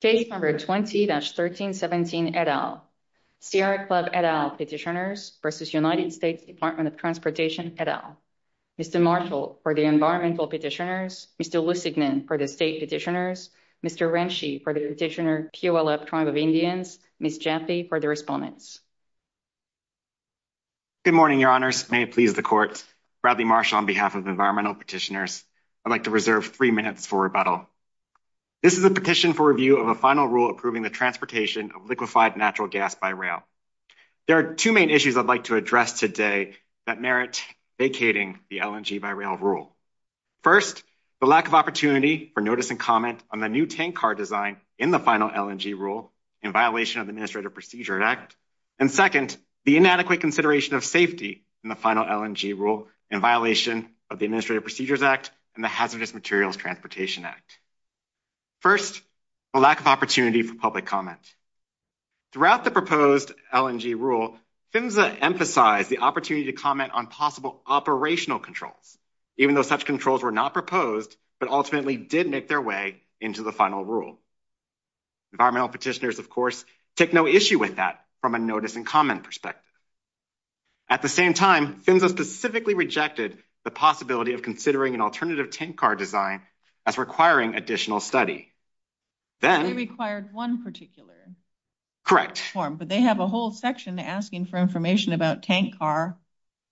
Stage number 20-1317 et al. Sierra Club et al petitioners v. United States Department of Transportation et al. Mr. Marshall for the environmental petitioners, Mr. Wissigman for the state petitioners, Mr. Renshi for the petitioner QLF Tribe of Indians, Ms. Jaffe for the respondents. Good morning, your honors. May it please the court. Bradley Marshall on behalf of environmental petitioners, I'd like to reserve 3 minutes for rebuttal. This is a petition for review of a final rule approving the transportation of liquefied natural gas by rail. There are two main issues I'd like to address today that merit vacating the LNG by rail rule. First, the lack of opportunity for notice and comment on the new tank car design in the final LNG rule in violation of the Administrative Procedures Act. And second, the inadequate consideration of safety in the final LNG rule in violation of the Administrative Procedures Act and the Hazardous Materials Transportation Act. First, the lack of opportunity for public comment. Throughout the proposed LNG rule, PHMSA emphasized the opportunity to comment on possible operational controls, even though such controls were not proposed, but ultimately did make their way into the final rule. Environmental petitioners, of course, take no issue with that from a notice and comment perspective. At the same time, PHMSA specifically rejected the possibility of considering an alternative tank car design as requiring additional study. It only required one particular form, but they have a whole section asking for information about tank car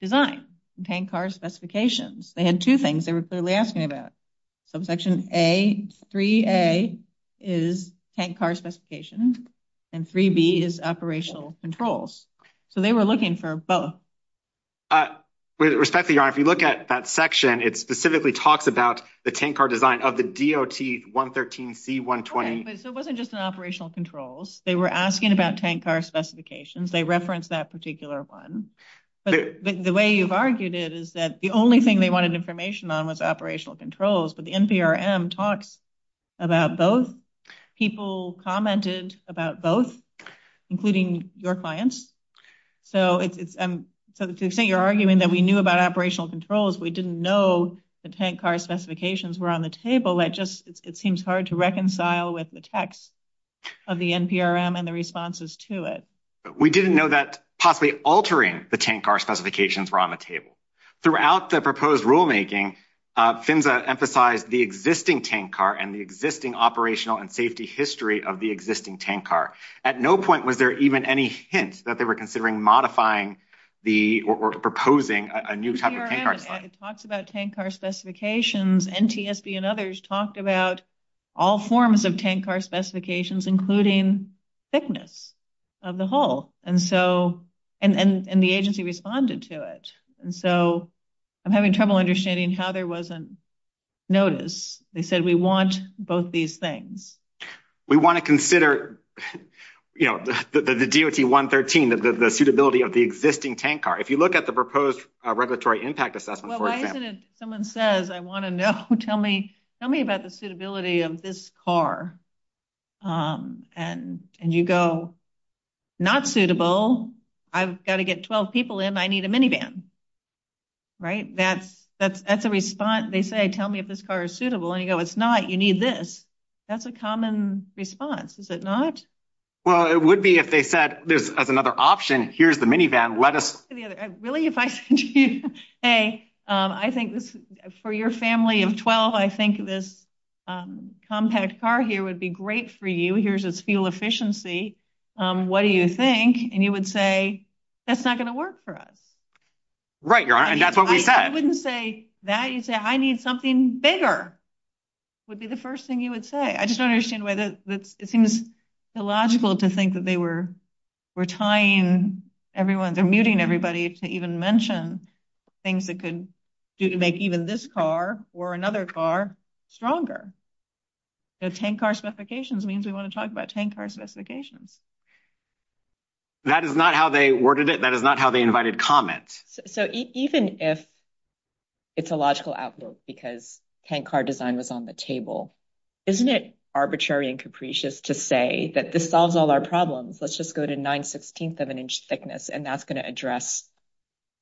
design and tank car specifications. They had two things they were clearly asking about. Subsection A, 3A is tank car specifications, and 3B is operational controls. So they were looking for both. With respect to your honor, if you look at that section, it specifically talks about the tank car design of the DOT 113C120. So it wasn't just an operational controls. They were asking about tank car specifications. They referenced that particular one. The way you've argued it is that the only thing they wanted information on was operational controls, but the NPRM talks about both. People commented about both, including your clients. So to the extent you're arguing that we knew about operational controls, we didn't know the tank car specifications were on the table. It just seems hard to reconcile with the text of the NPRM and the responses to it. We didn't know that possibly altering the tank car specifications were on the table. Throughout the proposed rulemaking, FINSA emphasized the existing tank car and the existing operational and safety history of the existing tank car. At no point was there even any hint that they were considering modifying or proposing a new type of tank car. It talks about tank car specifications. NTSB and others talked about all forms of tank car specifications, including thickness of the hull. And the agency responded to it. And so I'm having trouble understanding how there wasn't notice. They said we want both these things. We want to consider the DOT 113, the suitability of the existing tank car. If you look at the proposed regulatory impact assessment. Well, why isn't it if someone says, I want to know, tell me about the suitability of this car. And you go, not suitable. I've got to get 12 people in. I need a minivan. Right? That's a response. They say, tell me if this car is suitable. And you go, it's not. You need this. That's a common response. Is it not? Well, it would be if they said, there's another option. Here's the minivan. Really, if I say, I think for your family of 12, I think this compact car here would be great for you. Here's its fuel efficiency. What do you think? And you would say, that's not going to work for us. Right. You're right. That's what we said. I wouldn't say that. You say, I need something bigger. Would be the first thing you would say. I just don't understand why it seems illogical to think that they were tying everyone, they're muting everybody to even mention things that could do to make even this car or another car stronger. The tank car specifications means we want to talk about tank car specifications. That is not how they worded it. That is not how they invited comments. So even if it's a logical outlook because tank car design was on the table, isn't it arbitrary and capricious to say that this solves all our problems? Let's just go to nine sixteenths of an inch thickness and that's going to address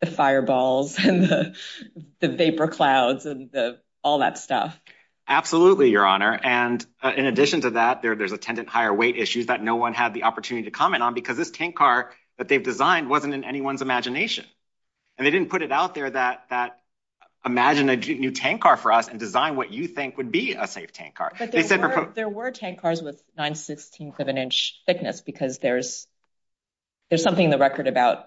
the fireballs and the vapor clouds and all that stuff. Absolutely, your honor. And in addition to that, there's attendant higher weight issues that no one had the opportunity to comment on because this tank car that they've designed wasn't in anyone's imagination and they didn't put it out there that imagine a new tank car for us and design what you think would be a safe tank car. There were tank cars with nine sixteenths of an inch thickness because there's something in the record about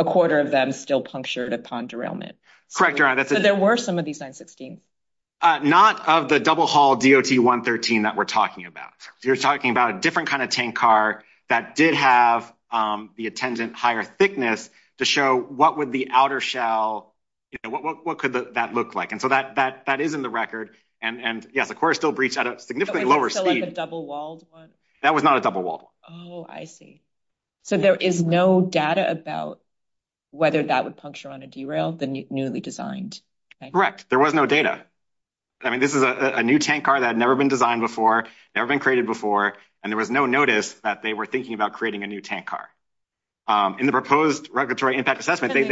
a quarter of them still punctured upon derailment. Correct, your honor. There were some of these nine sixteenths. Not of the double hull DOT 113 that we're talking about. You're talking about a different kind of tank car that did have the attendant higher thickness to show what would the outer shell, what could that look like? That is in the record. The core still breached at a significantly lower speed. Like a double walled one? That was not a double wall. Oh, I see. So there is no data about whether that would puncture on a derail, the newly designed tank? Correct. There was no data. This is a new tank car that had never been designed before, never been created before, and there was no notice that they were thinking about creating a new tank car. In the proposed regulatory impact assessment, they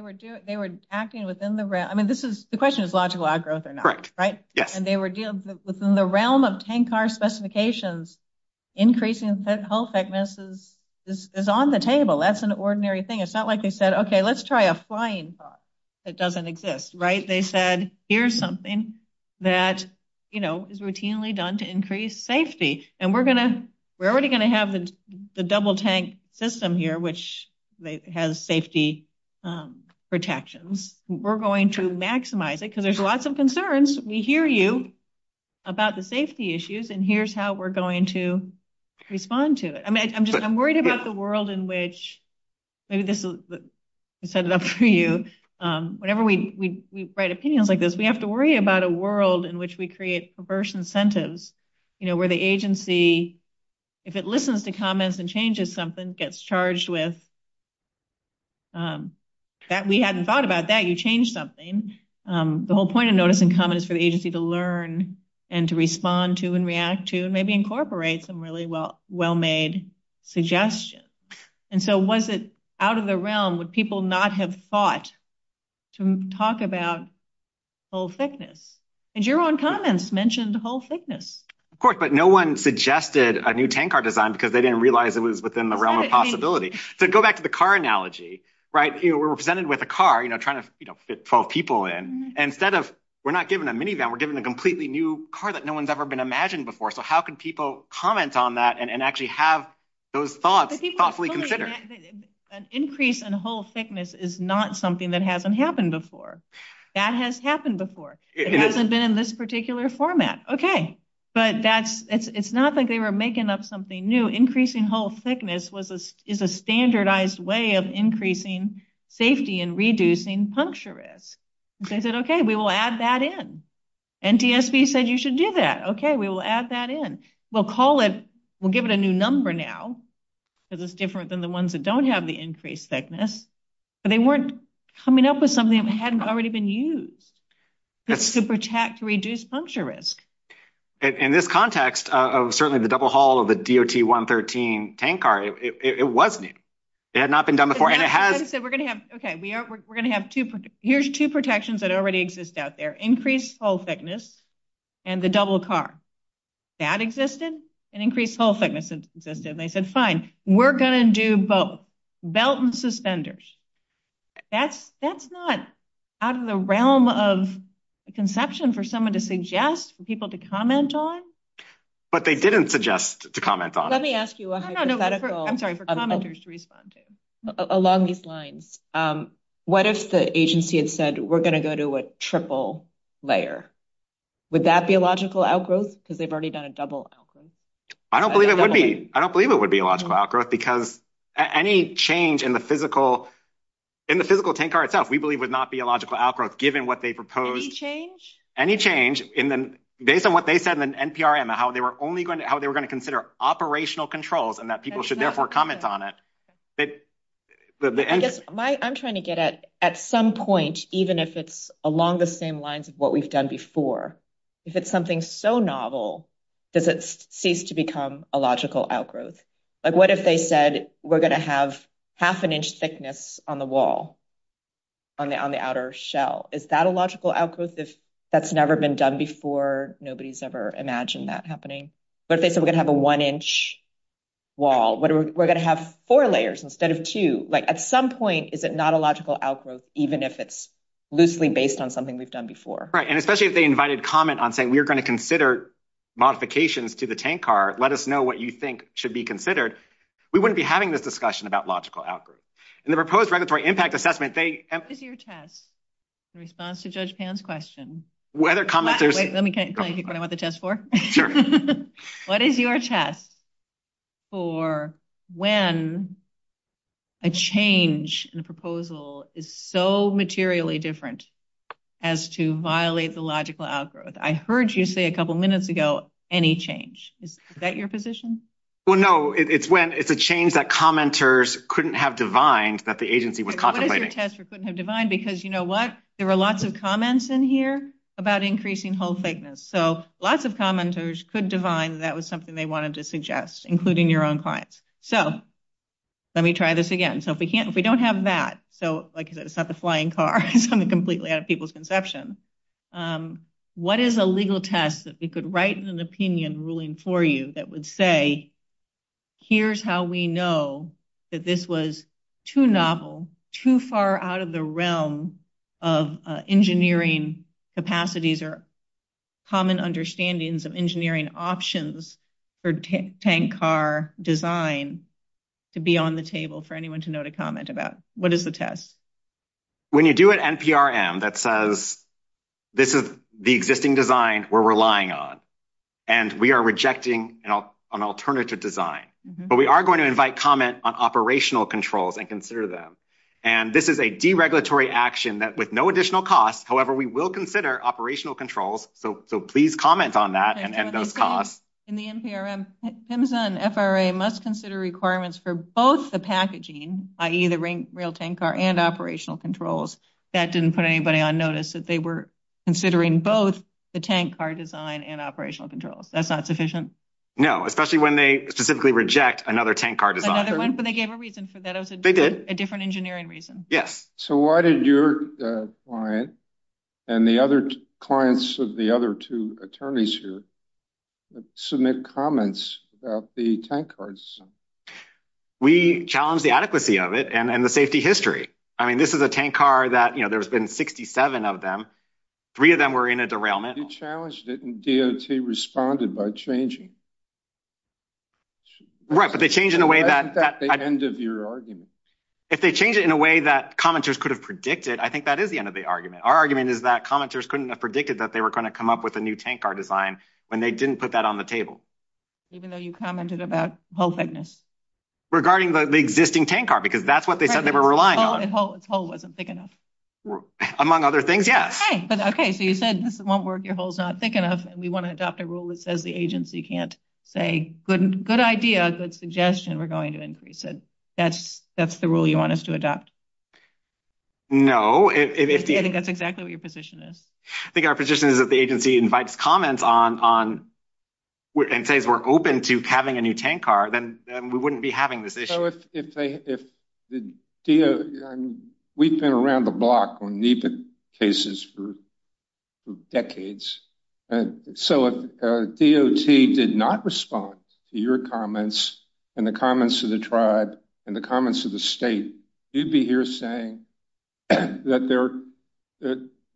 were doing, they were acting within the question is logical outgrowth or not, right? And they were dealing within the realm of tank car specifications, increasing hull thickness is on the table. That's an ordinary thing. It's not like they said, okay, let's try a flying thought that doesn't exist, right? They said, here's something that is routinely done to increase safety. And we're already going to have the double tank system here, which has safety protections. We're going to maximize it because there's lots of concerns. We hear you about the safety issues, and here's how we're going to respond to it. I mean, I'm just, I'm worried about the world in which, maybe this is, I set it up for you. Whenever we write opinions like this, we have to worry about a world in which we create perverse incentives, you know, where the agency, if it listens to comments and changes something, gets charged with that. We hadn't thought about that. You changed something. The whole point of notice and comment is for the agency to learn and to respond to and react to, and maybe incorporate some really well-made suggestions. And so, was it out of the realm? Would people not have thought to talk about hull thickness? And your own comments mentioned hull thickness. Of course, but no one suggested a new tank car design because they didn't realize it was within the realm of possibility. So, go back to the car analogy, right? We're presented with a car, you know, trying to fit 12 people in. Instead of, we're not given a minivan, we're given a completely new car that no one's ever been imagined before. So, how can people comment on that and actually have those thoughts thoughtfully considered? An increase in hull thickness is not something that hasn't happened before. That has happened before. It hasn't been in this particular format. Okay. But it's not like they were making up something new. Increasing hull thickness is a standardized way of increasing safety and reducing puncture risk. They said, okay, we will add that in. NTSB said you should give that. Okay, we will add that in. We'll call it, we'll give it a new number now, because it's different than the ones that don't have the increased thickness. But they weren't coming up with something that hadn't already been used. It's super-tacked to reduce puncture risk. In this context of certainly the double-hull of the DOT-113 tank car, it was new. It had not been done before. And it has. We're going to have, okay, we're going to have two, here's two protections that already exist out there. Increased hull thickness and the double car. That existed and increased hull thickness existed. They said, fine, we're going to do both. Belt and suspenders. That's not out of the realm of conception for someone to suggest, for people to comment on. But they didn't suggest to comment on it. Let me ask you a hypothetical. I'm sorry, for commenters to respond to. Along these lines, what if the agency had said, we're going to go to a triple layer? Would that be a logical outgrowth? Because they've already done a double outgrowth. I don't believe it would be. I don't believe it would be a logical outgrowth. Because any change in the physical tank car itself, we believe would not be a logical outgrowth, given what they proposed. Any change? Any change. Based on what they said in the NPRM, how they were going to consider operational controls and that people should therefore comment on it. I'm trying to get at some point, even if it's along the same lines of what we've done before. If it's something so novel, does it cease to become a logical outgrowth? What if they said, we're going to have half an inch thickness on the wall, on the outer shell? Is that a logical outgrowth? That's never been done before. Nobody's ever imagined that happening. What if they said, we're going to have a one inch wall? What if we're going to have four layers instead of two? At some point, is it not a logical outgrowth, even if it's loosely based on something we've done before? Right. And especially if they invited comment on saying, we are going to consider modifications to the tank car. Let us know what you think should be considered. We wouldn't be having this discussion about logical outgrowth. In the proposed regulatory impact assessment, they- What is your test in response to Judge Pan's question? Let me tell you what I want the test for. What is your test for when a change in a proposal is so materially different as to violate the logical outgrowth? I heard you say a couple minutes ago, any change. Is that your position? Well, no, it's when it's a change that commenters couldn't have defined that the agency would contemplate. Couldn't have defined because you know what? There were lots of comments in here about increasing hole thickness. So lots of commenters could define that was something they wanted to suggest, including your own clients. So let me try this again. So if we don't have that, so like it's not the flying car, it's completely at people's conception. What is a legal test that we could write an opinion ruling for you that would say, here's how we know that this was too novel, too far out of the realm of engineering capacities or common understandings of engineering options for tank car design to be on the table for anyone to know to comment about? What is the test? When you do an NPRM that says this is the existing design we're relying on and we are rejecting an alternative design, but we are going to invite comment on operational controls and consider them. And this is a deregulatory action that with no additional cost, however, we will consider operational controls. So please comment on that and end those costs. In the NPRM, PHMSA and FRA must consider requirements for both the packaging, i.e. rail tank car and operational controls. That didn't put anybody on notice that they were considering both the tank car design and operational controls. That's not sufficient? No, especially when they specifically reject another tank car design. Another one, but they gave a reason for that. They did. A different engineering reason. Yes. So why did your client and the other clients of the other two attorneys here submit comments about the tank cars? We challenged the adequacy of it and the safety history. I mean, this is a tank car that, you know, there's been 67 of them. Three of them were in a derailment. You challenged it and DOT responded by changing. Right, but they changed in a way that... That's not the end of your argument. If they change it in a way that commenters could have predicted, I think that is the end of the argument. Our argument is that commenters couldn't have predicted that they were going to come up with a new tank car design when they didn't put that on the table. Even though you commented about hole thickness. Regarding the existing tank car, because that's what they said they were relying on. If the hole wasn't thick enough. Among other things, yes. Okay, but okay, so you said this won't work, your hole's not thick enough, and we want to adopt a rule that says the agency can't say, good idea, good suggestion, we're going to increase it. That's the rule you want us to adopt? No. That's exactly what your position is. I think our position is that the agency invites comments on, and says we're open to having a new tank car, then we wouldn't be having this issue. So if they... We've been around the block on NEPA cases for decades, so if DOT did not respond to your comments, and the comments of the tribe, and the comments of the state, you'd be saying that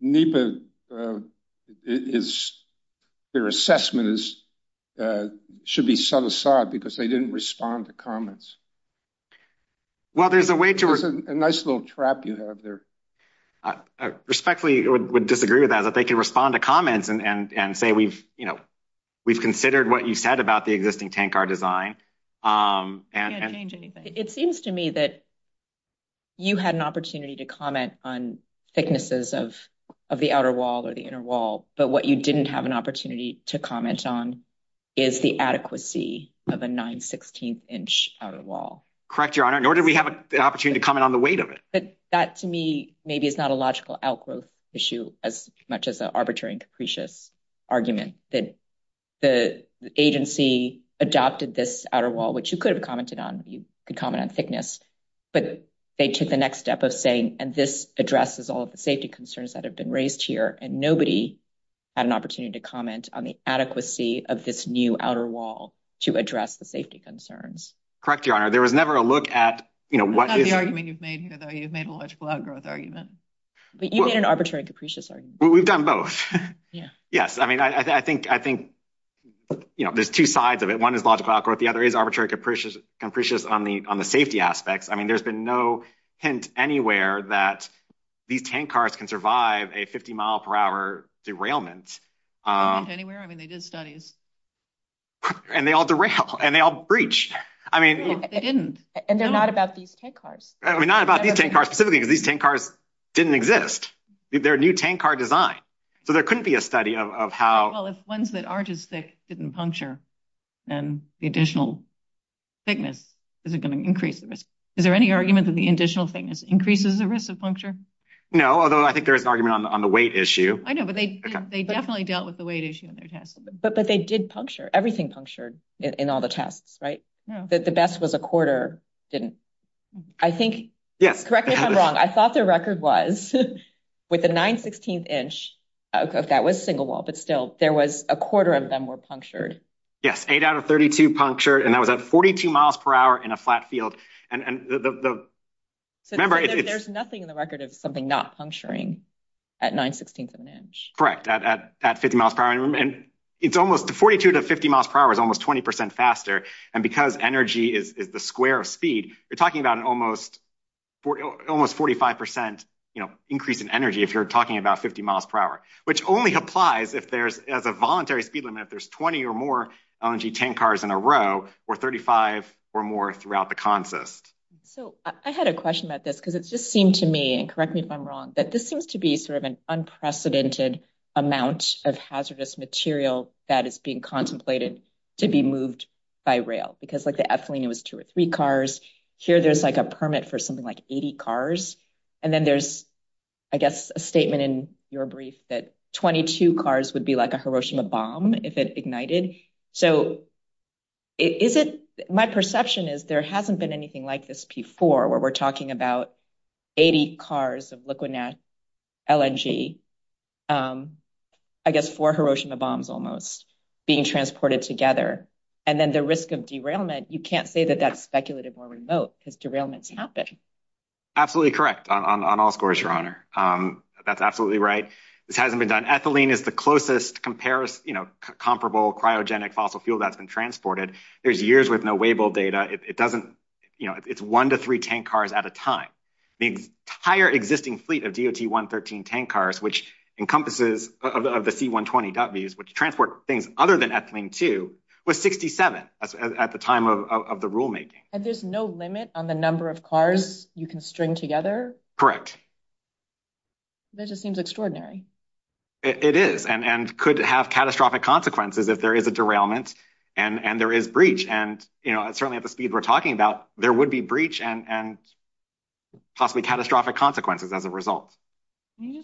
NEPA, their assessment should be set aside because they didn't respond to Well, there's a way to... It's a nice little trap you have there. I respectfully would disagree with that, that they can respond to comments and say we've considered what you said about the existing tank car design. You can't change anything. It seems to me that you had an opportunity to comment on thicknesses of the outer wall or the inner wall, but what you didn't have an opportunity to comment on is the adequacy of a nine-sixteenth inch outer wall. Correct, Your Honor, nor did we have the opportunity to comment on the weight of it. But that, to me, maybe it's not a logical outgrowth issue as much as an arbitrary and wall, which you could have commented on. You could comment on thickness, but they took the next step of saying, and this addresses all of the safety concerns that have been raised here, and nobody had an opportunity to comment on the adequacy of this new outer wall to address the safety concerns. Correct, Your Honor. There was never a look at what... That's not the argument you've made here, though. You've made a logical outgrowth argument. You made an arbitrary and capricious argument. We've done both. Yes, I mean, I think there's two sides of it. One is logical outgrowth. The other is arbitrary and capricious on the safety aspects. I mean, there's been no hint anywhere that these tank cars can survive a 50-mile-per-hour derailment. No hint anywhere? I mean, they did studies. And they all derailed, and they all breached. I mean... They didn't. And they're not about these tank cars. They're not about these tank cars, because these tank cars didn't exist. They're a new tank car design. So there couldn't be a study of how... Well, if ones that are just thick didn't puncture, then the additional thickness isn't going to increase the risk. Is there any argument that the additional thickness increases the risk of puncture? No, although I think there is an argument on the weight issue. I know, but they definitely dealt with the weight issue in their tests. But they did puncture. Everything punctured in all the tests, right? The best was a quarter. I think... Correct me if I'm wrong. I thought the record was with the 916th inch, that was single wall. But still, there was a quarter of them were punctured. Yes, 8 out of 32 punctured. And that was at 42 miles per hour in a flat field. And remember, it's... There's nothing in the record of something not puncturing at 916th of an inch. Correct, at 50 miles per hour. And it's almost... 42 to 50 miles per hour is almost 20% faster. And because energy is the square of speed, you're talking about almost 45% increase in energy if you're talking about 50 miles per hour. Which only applies if there's... As a voluntary speed limit, there's 20 or more LNG tank cars in a row, or 35 or more throughout the consist. So, I had a question about this, because it just seemed to me, and correct me if I'm wrong, that this seems to be sort of an unprecedented amount of hazardous material that is being contemplated to be moved by rail. Because like the Esalino was two or three cars. Here, there's like a permit for something like 80 cars. And then there's, I guess, a statement in your brief that 22 cars would be like a Hiroshima bomb if it ignited. So, is it... My perception is there hasn't been anything like this before, where we're talking about 80 cars of liquid LNG, I guess four Hiroshima bombs almost, being transported together. And then the risk of derailment, you can't say that that's speculative or remote, because derailments happen. Absolutely correct on all scores, Your Honor. That's absolutely right. This hasn't been done. Ethylene is the closest comparable cryogenic fossil fuel that's been transported. There's years with no weighable data. It doesn't... It's one to three tank cars at a time. The entire existing fleet of DOT-113 tank cars, which encompasses of the C-120Ws, which transport things other than ethylene too, was 67 at the time of the rulemaking. And there's no limit on the number of cars you can string together? That just seems extraordinary. It is, and could have catastrophic consequences if there is a derailment and there is breach. And certainly at the speed we're talking about, there would be breach and possibly catastrophic consequences as a result. Are you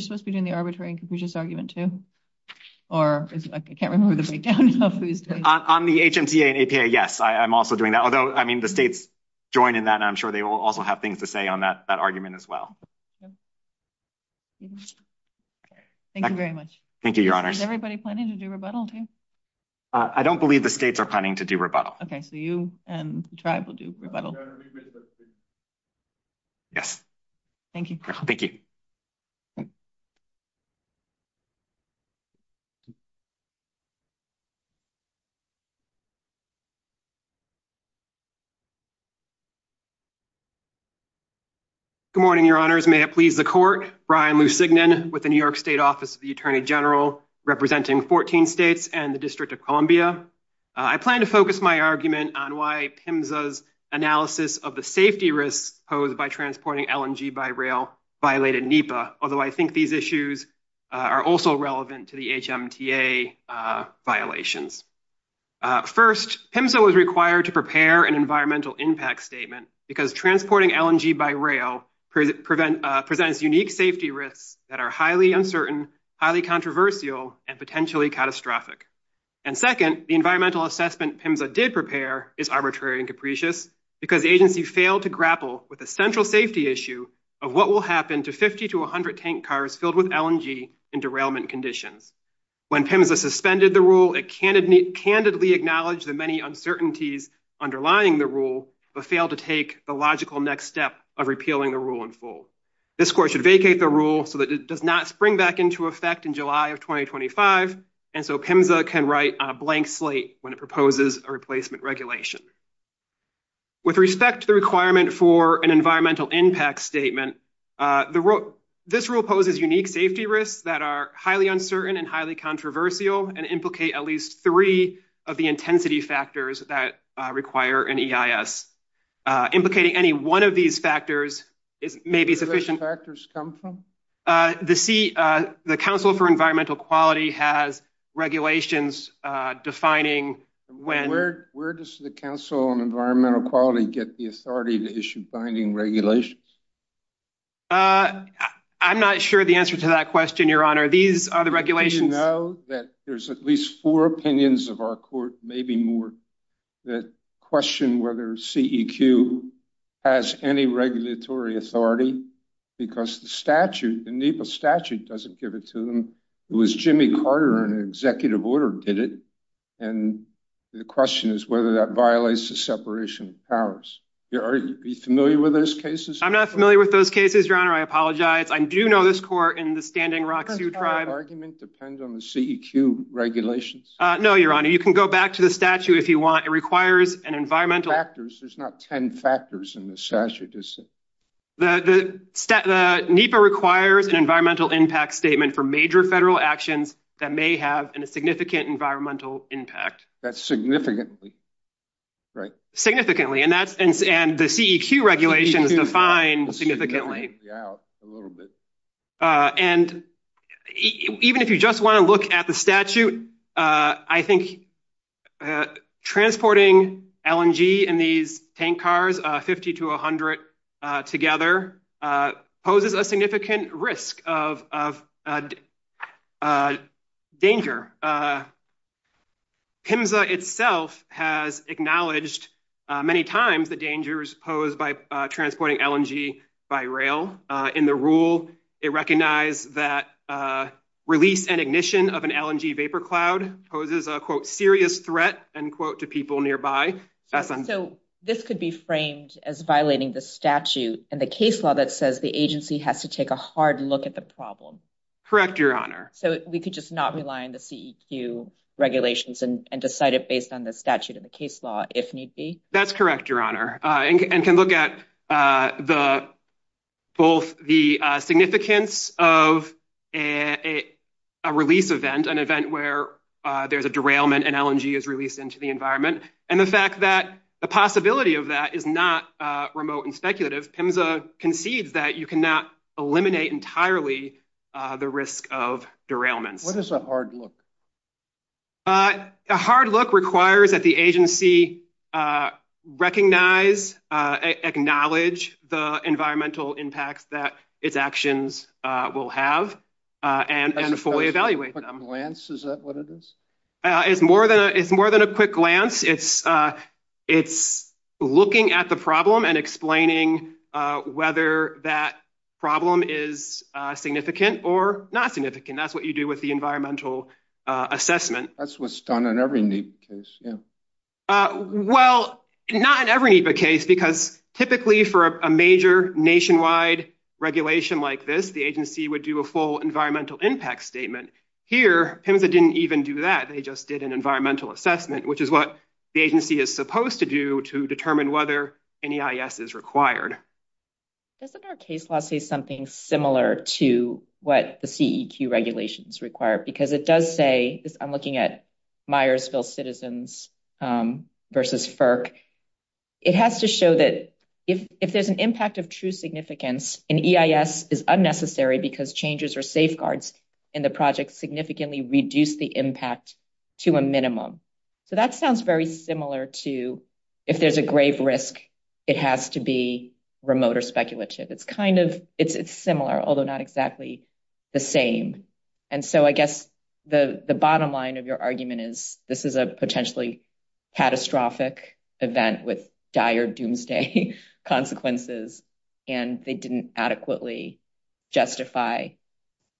supposed to be doing the arbitrary and capricious argument too? Or I can't remember the breakdown. On the HMCA and APA, yes, I'm also doing that. Although, I mean, the states joined in that. I'm sure they will also have things to say on that argument as well. Thank you very much. Thank you, Your Honor. Is everybody planning to do rebuttal? I don't believe the states are planning to do rebuttal. Okay, so you and the tribe will do rebuttal. Yes. Thank you. Thank you. Thank you. Good morning, Your Honors. May it please the court. Brian Lusignan with the New York State Office of the Attorney General, representing 14 states and the District of Columbia. I plan to focus my argument on why PIMSA's analysis of the safety risks posed by transporting LMG by rail violated NEPA, although I think these issues are also relevant to the HMCA violations. First, PIMSA was required to prepare an environmental impact statement because transporting LMG by rail presents unique safety risks that are highly uncertain, highly controversial, and potentially catastrophic. And second, the environmental assessment PIMSA did prepare is arbitrary and capricious because the agency failed to grapple with a central safety issue of what will happen to 50 to 100 tank cars filled with LMG in derailment conditions. When PIMSA suspended the rule, it candidly acknowledged the many uncertainties underlying the rule but failed to take the logical next step of repealing the rule in full. This court should vacate the rule so that it does not spring back into effect in July of 2025 and so PIMSA can write a blank slate when it proposes a replacement regulation. With respect to the requirement for an environmental impact statement, this rule poses unique safety risks that are highly uncertain and highly controversial and implicate at least three of the intensity factors that require an EIS. Implicating any one of these factors, it may be sufficient... Where do these factors come from? The Council for Environmental Quality has regulations defining when... Where does the Council on Environmental Quality get the authority to issue binding regulations? I'm not sure the answer to that question, Your Honor. These are the regulations... We know that there's at least four opinions of our court, maybe more, that question whether CEQ has any regulatory authority because the statute, the NEPA statute doesn't give it to them. It was Jimmy Carter in an executive order that did it, and the question is whether that violates the separation of powers. Your Honor, are you familiar with those cases? I'm not familiar with those cases, Your Honor. I apologize. I do know this court in the Standing Rock Sioux Tribe... Does the argument depend on the CEQ regulations? No, Your Honor. You can go back to the statute if you want. It requires an environmental... Factors? There's not 10 factors in the statute, is there? The NEPA requires an environmental impact statement for major federal actions that may have a significant environmental impact. That's significantly, right? Significantly, and the CEQ regulations define significantly. Even if you just want to look at the statute, I think transporting LNG in these tank cars, 50 to 100 together, poses a significant risk of danger. PIMSA itself has acknowledged many times the dangers posed by transporting LNG by rail. In the rule, it recognized that release and ignition of an LNG vapor cloud poses a, quote, serious threat, end quote, to people nearby. So, this could be framed as violating the statute and the case law that says the agency has to take a hard look at the problem. Correct, Your Honor. So, we could just not rely on the CEQ regulations and decide it based on the statute and the case law, if need be? That's correct, Your Honor, and can look at both the significance of a release event, an event where there's a derailment and LNG is released into the environment, and the fact that the possibility of that is not remote and speculative. PIMSA concedes that you cannot eliminate entirely the risk of derailment. What is a hard look? A hard look requires that the agency recognize, acknowledge the environmental impacts that its actions will have and fully evaluate them. A quick glance, is that what it is? It's more than a quick glance. It's looking at the problem and explaining whether that problem is significant or not significant. That's what you do with the environmental assessment. That's what's done in every NEPA case, yeah. Well, not in every NEPA case, because typically for a major nationwide regulation like this, the agency would do a full environmental impact statement. Here, PIMSA didn't even do that. They just did an environmental assessment, which is what the agency is supposed to do to determine whether an EIS is required. Doesn't our case law say something similar to what the CEQ regulations require? Because it does say, I'm looking at Myersville Citizens versus FERC. It has to show that if there's an impact of true significance, an EIS is unnecessary because changes or safeguards in the project significantly reduce the impact to a minimum. That sounds very similar to, if there's a grave risk, it has to be remote or speculative. It's similar, although not exactly the same. I guess the bottom line of your argument is, this is a potentially catastrophic event with dire doomsday consequences. They didn't adequately justify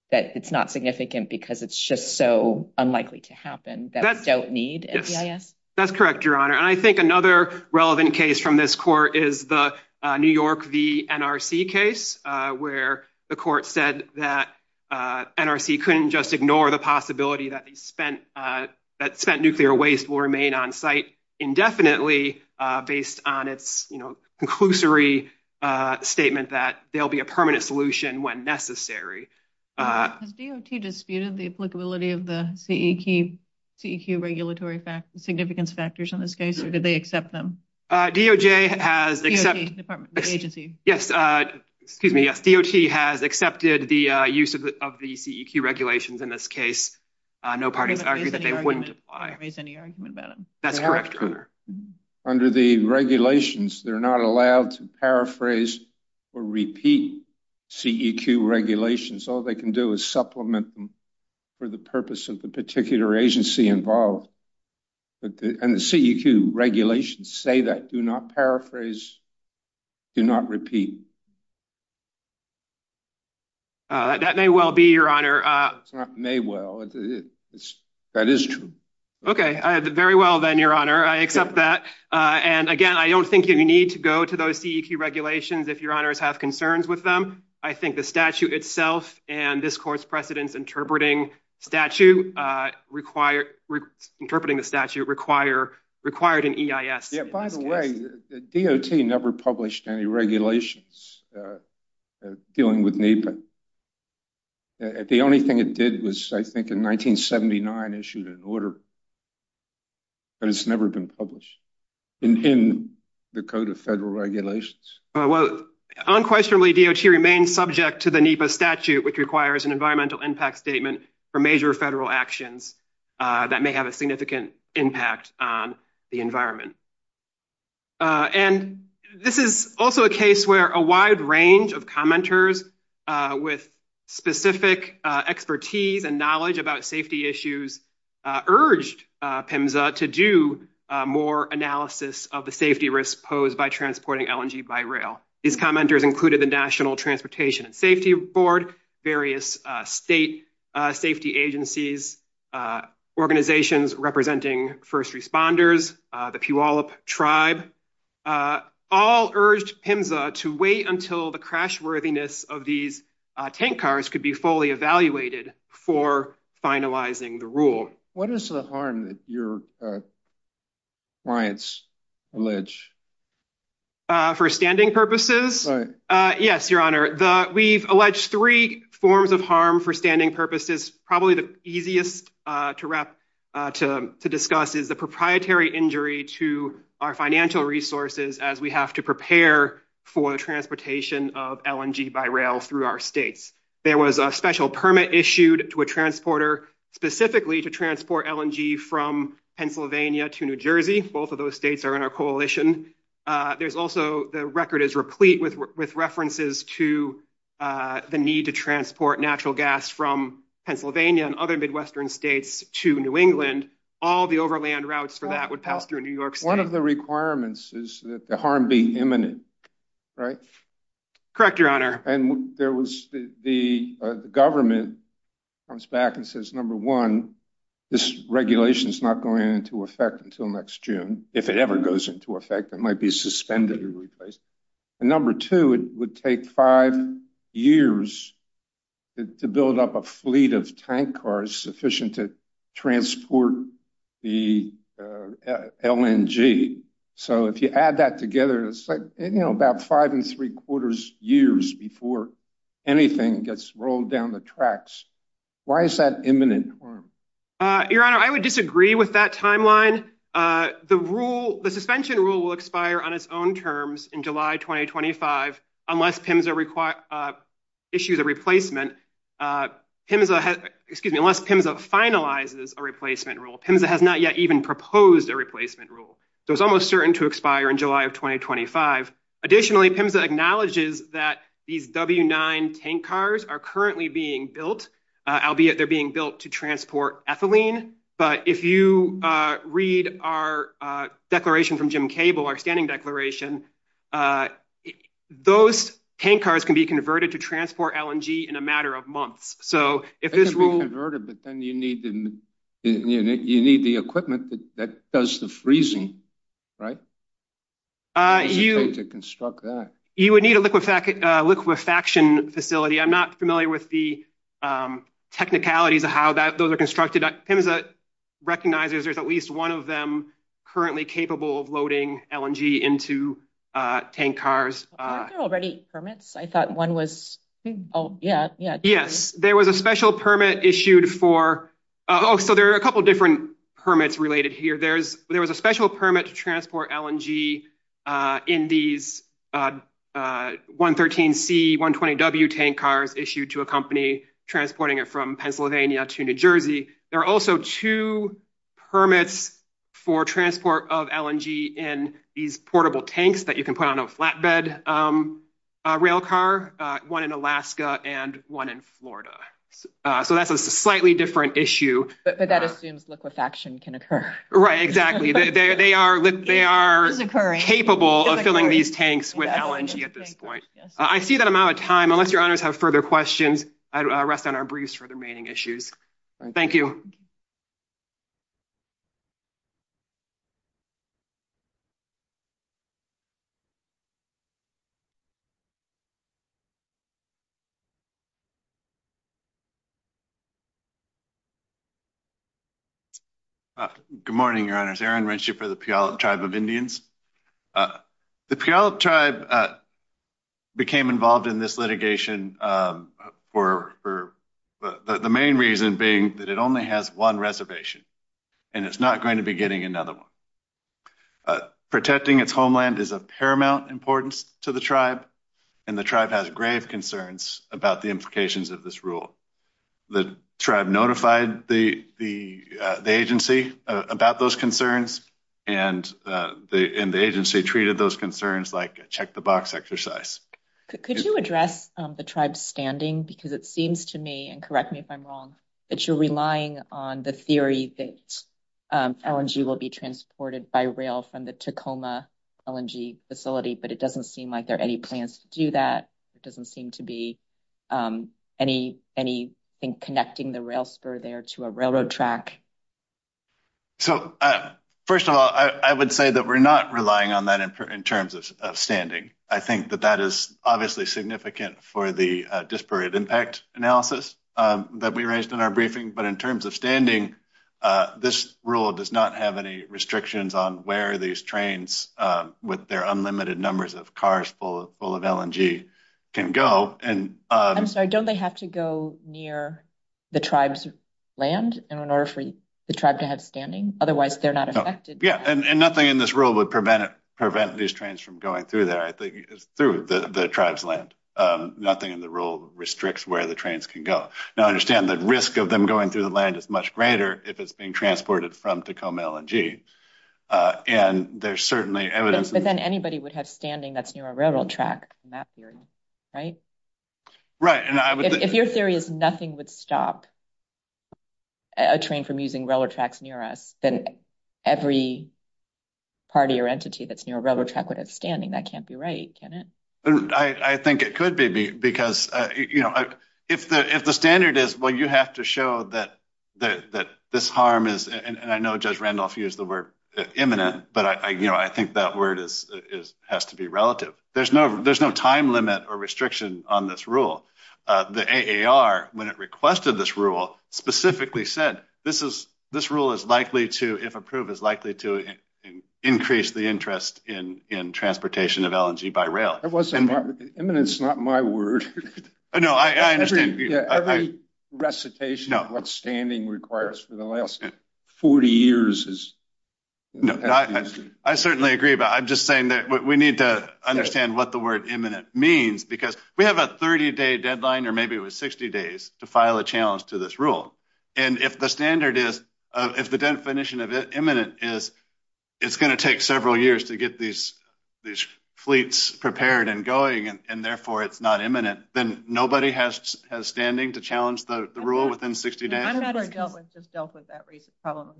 that it's not significant because it's just so unlikely to happen that we don't need an EIS? That's correct, Your Honor. I think another relevant case from this court is the New York v. NRC case, where the court said that NRC couldn't just ignore the possibility that spent nuclear waste will remain on site indefinitely based on its conclusory statement that there'll be a permanent solution when necessary. Has DOT disputed the applicability of the CEQ regulatory significance factors in this case, or did they accept them? DOT has accepted the use of the CEQ regulations in this case. No parties argued that they wouldn't. They didn't raise any argument about it. That's correct, Your Honor. Under the regulations, they're not allowed to paraphrase or repeat CEQ regulations. All they can do is supplement them for the purpose of the particular agency involved. And the CEQ regulations say that, do not paraphrase, do not repeat. That may well be, Your Honor. It's not may well. That is true. Okay. Very well then, Your Honor. I accept that. And again, I don't think you need to go to those CEQ regulations if Your Honors have concerns with them. I think the statute itself and this court's precedence interpreting the statute required an EIS. Yeah. By the way, DOT never published any regulations dealing with NEPA. The only thing it did was, I think, in 1979, issued an order, but it's never been published in the Code of Federal Regulations. Well, unquestionably, DOT remains subject to the NEPA statute, which requires an environmental impact statement for major federal actions that may have a significant impact on the environment. And this is also a case where a wide range of commenters with specific expertise and knowledge about safety issues urged PIMSA to do more analysis of the safety risks posed by transporting LNG by rail. These commenters included the National Transportation Safety Board, various state safety agencies, organizations representing first responders, the Puyallup Tribe, all urged PIMSA to wait until the crashworthiness of these tank cars could be fully evaluated before finalizing the rule. What is the harm that your clients allege? For standing purposes? Yes, Your Honor. We've alleged three forms of harm for standing purposes. Probably the easiest to discuss is the proprietary injury to our financial resources as we have to prepare for the transportation of LNG by rail through our states. There was a special permit issued to a transporter specifically to transport LNG from Pennsylvania to New Jersey. Both of those states are in our coalition. There's also the record is replete with references to the need to transport natural gas from Pennsylvania and other Midwestern states to New England. All the overland routes for that would pass through New York. One of the requirements is that the harm be imminent, right? Correct, Your Honor. And there was the government comes back and says, number one, this regulation is not going into effect until next June. If it ever goes into effect, it might be suspended or replaced. And number two, it would take five years to build up a fleet of tank cars sufficient to transport the LNG. So if you add that together, it's like, you know, about five and three quarters years before anything gets rolled down the tracks. Why is that imminent harm? Your Honor, I would disagree with that timeline. The suspension rule will expire on its own terms in July 2025 unless PIMSA issues a replacement. Excuse me, unless PIMSA finalizes a replacement rule. PIMSA has not yet even proposed a replacement rule. So it's almost certain to expire in July of 2025. Additionally, PIMSA acknowledges that these W9 tank cars are currently being built, albeit they're being built to transport ethylene. But if you read our declaration from Jim Cable, our standing declaration, those tank cars can be converted to transport LNG in a matter of months. So if this rule... They can be converted, but then you need the equipment that does the freezing, right? You would need a liquefaction facility. I'm not familiar with the technicalities of how those are constructed, but PIMSA recognizes there's at least one of them currently capable of loading LNG into tank cars. Are there already permits? I thought one was... Oh, yeah, yeah. Yes, there was a special permit issued for... Oh, so there are a couple of different permits related here. There was a special permit to transport LNG in these 113C, 120W tank cars issued to a company transporting it from Pennsylvania to New Jersey. There are also two permits for transport of LNG in these portable tanks that you can put on a flatbed rail car, one in Alaska and one in Florida. So that's a slightly different issue. But that assumes liquefaction can occur. Right, exactly. They are capable of filling these tanks with LNG at this point. I see that I'm out of time. Unless your honors have further questions, I rest on our briefs for the remaining issues. Thank you. Good morning, your honors. Aaron Rensher for the Puyallup Tribe of Indians. The Puyallup Tribe became involved in this litigation for the main reason being that it only has one reservation, and it's not going to be getting another one. Protecting its homeland is of paramount importance to the tribe, and the tribe has grave concerns about the implications of this rule. The tribe notified the agency about those concerns, and the agency treated those concerns like a check-the-box exercise. Could you address the tribe's standing? Because it seems to me, and correct me if I'm wrong, that you're relying on the theory that LNG will be transported by rail from the Tacoma LNG facility, but it doesn't seem like there are any plans to do that. It doesn't seem to be any connecting the rail spur there to a railroad track. So, first of all, I would say that we're not relying on that in terms of standing. I think that that is obviously significant for the disparate impact analysis that we raised in our briefing, but in terms of standing, this rule does not have any restrictions on where these trains, with their unlimited numbers of cars full of LNG, can go. I'm sorry. Don't they have to go near the tribe's land in order for the tribe to have standing? Otherwise, they're not affected. Yeah, and nothing in this rule would prevent these trains from going through there. I think it's through the tribe's land. Nothing in the rule restricts where the trains can go. Now, I understand the risk of them going through the land is much greater if it's being transported from Tacoma LNG. There's certainly evidence. But then anybody would have standing that's near a railroad track in that theory, right? Right. If your theory is nothing would stop a train from using railroad tracks near us, then every party or entity that's near a railroad track would have standing. That can't be right, can it? I think it could be, because if the standard is, well, you have to show that this harm and I know Judge Randolph used the word imminent, but I think that word has to be relative. There's no time limit or restriction on this rule. The AAR, when it requested this rule, specifically said this rule is likely to, if approved, is likely to increase the interest in transportation of LNG by rail. That wasn't my, imminent's not my word. No, I understand. Every recitation of what standing requires for the last 40 years is. I certainly agree, but I'm just saying that we need to understand what the word imminent means because we have a 30 day deadline, or maybe it was 60 days to file a challenge to this rule. And if the standard is, if the definition of imminent is, it's going to take several years to get these fleets prepared and going, and therefore it's not imminent, then nobody has standing to challenge the rule within 60 days. I don't know if you dealt with that problem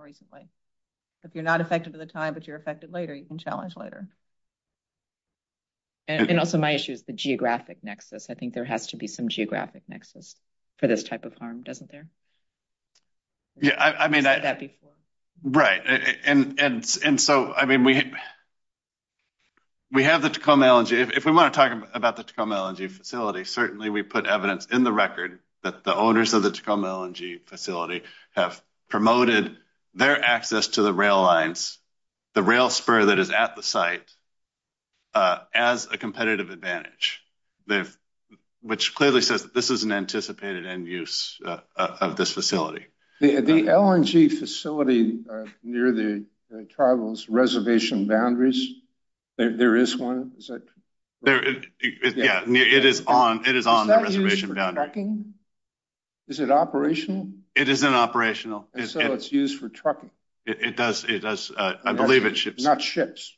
recently. If you're not affected at the time, but you're affected later, you can challenge later. And also my issue is the geographic nexus. I think there has to be some geographic nexus for this type of harm, doesn't there? Yeah, I mean, right. And so, I mean, we have the Tacoma LNG, if we want to talk about the Tacoma LNG facility, certainly we put evidence in the record that the owners of the Tacoma LNG facility have promoted their access to the rail lines, the rail spur that is at the site as a competitive advantage, which clearly says this is an anticipated end use of this facility. The LNG facility near the Tribal's reservation boundaries, there is one, is it? Yeah, it is on the reservation boundary. Is it operational? It is an operational. And so it's used for trucking. It does. I believe it ships. Not ships.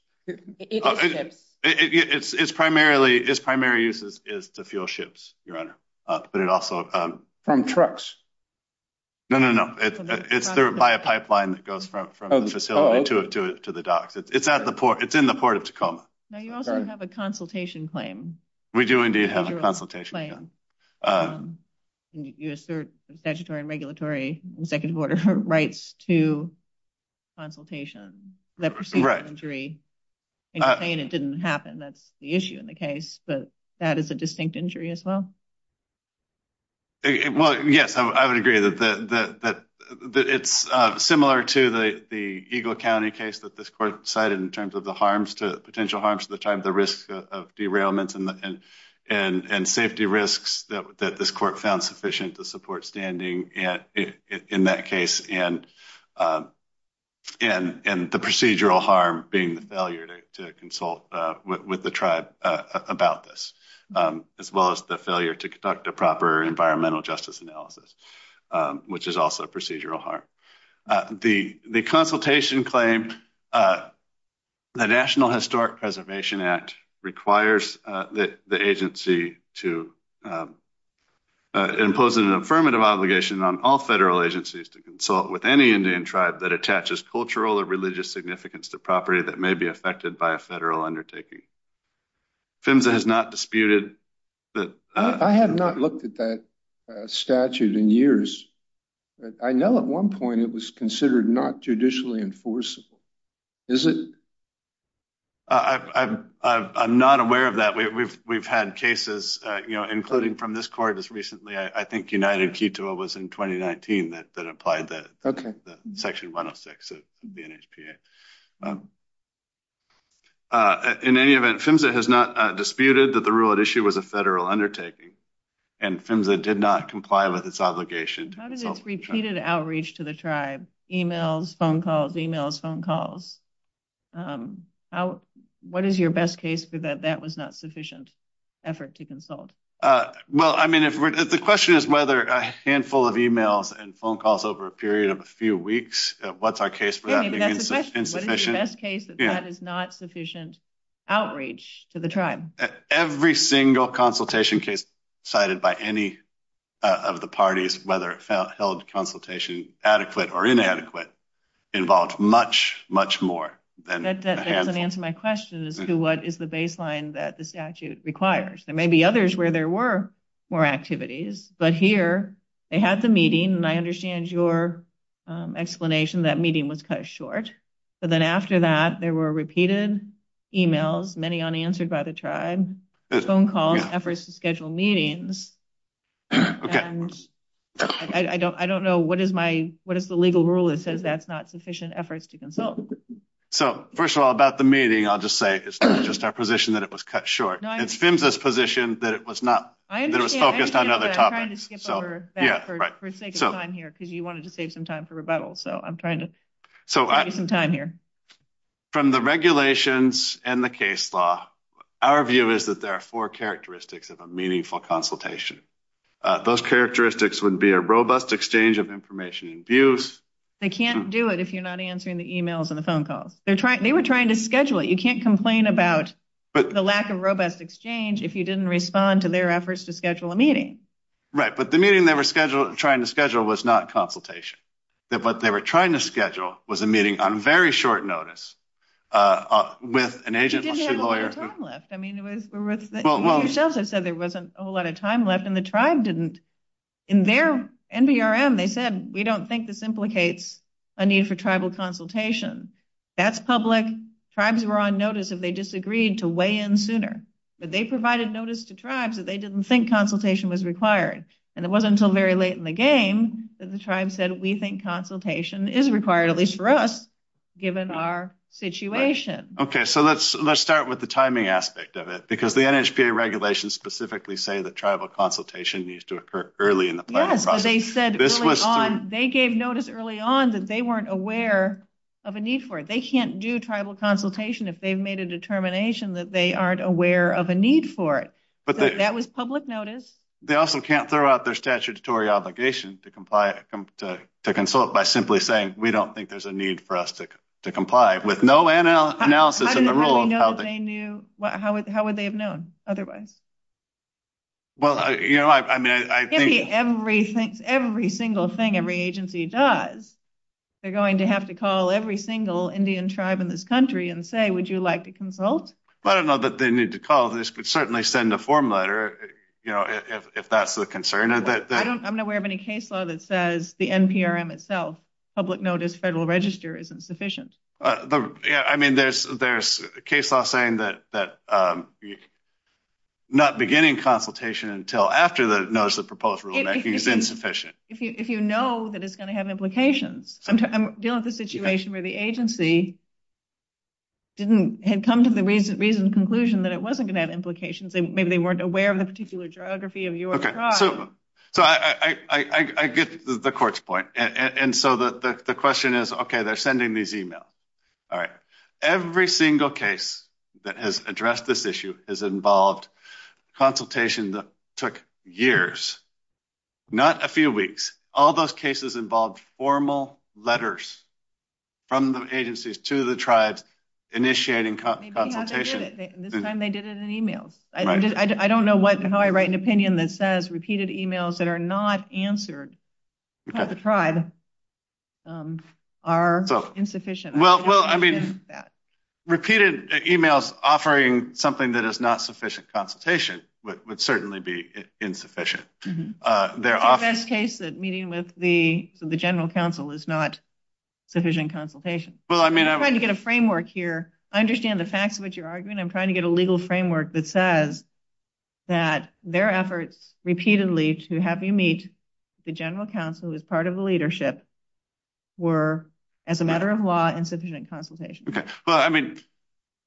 Its primary use is to fuel ships, Your Honor, but it also- From trucks. No, no, no. It's served by a pipeline that goes from the facility to the dock. It's at the port. It's in the port of Tacoma. Now, you also have a consultation claim. We do, indeed, have a consultation claim. You assert statutory and regulatory and second quarter rights to consultation. Right. The procedure of injury. And you're saying it didn't happen. That's the issue in the case. But that is a distinct injury as well? Well, yes, I would agree that it's similar to the Eagle County case that this court cited in terms of the harms, potential harms to the tribe, the risk of derailments and safety risks that this court found sufficient to support standing in that case, and the procedural harm being the failure to consult with the tribe about this, as well as the failure to conduct a proper environmental justice analysis, which is also a procedural harm. The consultation claim, the National Historic Preservation Act requires the agency to impose an affirmative obligation on all federal agencies to consult with any Indian tribe that attaches cultural or religious significance to property that may be affected by a federal undertaking. PHMSA has not disputed that. I have not looked at that statute in years. I know at one point it was considered not judicially enforceable. Is it? I'm not aware of that. We've had cases, you know, including from this court as recently, I think United Quito was in 2019 that applied that. Okay. Section 106 of the NHPA. In any event, PHMSA has not disputed that the rule at issue was a federal undertaking, and PHMSA did not comply with its obligation. How did this repeated outreach to the tribe, emails, phone calls, emails, phone calls? What is your best case for that that was not sufficient effort to consult? Well, I mean, the question is whether a handful of emails and phone calls over a period of a few weeks, what's our case for that being incessant? The best case is that it's not sufficient outreach to the tribe. Every single consultation case cited by any of the parties, whether it held consultation adequate or inadequate, involved much, much more. That doesn't answer my question as to what is the baseline that the statute requires. There may be others where there were more activities, but here they had the meeting, and I understand your explanation that meeting was cut short. But then after that, there were repeated emails, many unanswered by the tribe, phone calls, efforts to schedule meetings. Okay. I don't know what is the legal rule that says that's not sufficient efforts to consult. So, first of all, about the meeting, I'll just say it's just our position that it was cut short. It's PHMSA's position that it was focused on other topics. I'm trying to skip over for sake of time here because you wanted to save some time for rebuttal. So, I'm trying to save you some time here. From the regulations and the case law, our view is that there are four characteristics of a meaningful consultation. Those characteristics would be a robust exchange of information and views. They can't do it if you're not answering the emails or the phone calls. They were trying to schedule it. You can't complain about the lack of robust exchange if you didn't respond to their efforts to schedule a meeting. Right, but the meeting they were trying to schedule was not consultation, that what they were trying to schedule was a meeting on very short notice with an agent or a lawyer. I mean, the shelter said there wasn't a whole lot of time left, and the tribe didn't. In their NBRM, they said, we don't think this implicates a need for tribal consultation. That's public. Tribes were on notice if they disagreed to weigh in sooner, but they provided notice to tribes that they didn't think consultation was required, and it wasn't until very late in the game that the tribe said, we think consultation is required, at least for us, given our situation. Okay, so let's start with the timing aspect of it, because the NHPA regulations specifically say that tribal consultation needs to occur early in the planning process. They said early on, they gave notice early on that they weren't aware of a need for it. They can't do tribal consultation if they've made a determination that they aren't aware of a need for it. That was public notice. They also can't throw out their statutory obligation to consult by simply saying, we don't think there's a need for us to comply with no analysis of the rule. How do they know they knew? How would they have known otherwise? Well, you know, I mean, I think— It can't be every single thing every agency does. They're going to have to call every single Indian tribe in this country and say, would you like to consult? Well, I don't know that they need to call. This could certainly send a form letter, you know, if that's the concern. I'm not aware of any case law that says the NPRM itself, Public Notice Federal Register, isn't sufficient. I mean, there's a case law saying that not beginning consultation until after the notice of proposed rulemaking is insufficient. If you know that it's going to have implications. I'm dealing with a situation where the agency had come to the recent conclusion that it wasn't going to have implications, and maybe they weren't aware of the particular geography of your tribe. So I get the court's point. And so the question is, OK, they're sending these emails. All right. Every single case that has addressed this issue has involved consultation that took years, not a few weeks. All those cases involved formal letters from the agencies to the tribe initiating consultation. This time they did it in email. I don't know how I write an opinion that says repeated emails that are not answered by the tribe are insufficient. Well, I mean, repeated emails offering something that is not sufficient consultation would certainly be insufficient. Their office case that meeting with the general counsel is not sufficient consultation. Well, I mean, I'm trying to get a framework here. I understand the facts of what you're arguing. I'm trying to get a legal framework that says that their efforts repeatedly to have you meet the general counsel as part of the leadership were as a matter of law and sufficient consultation. Well, I mean,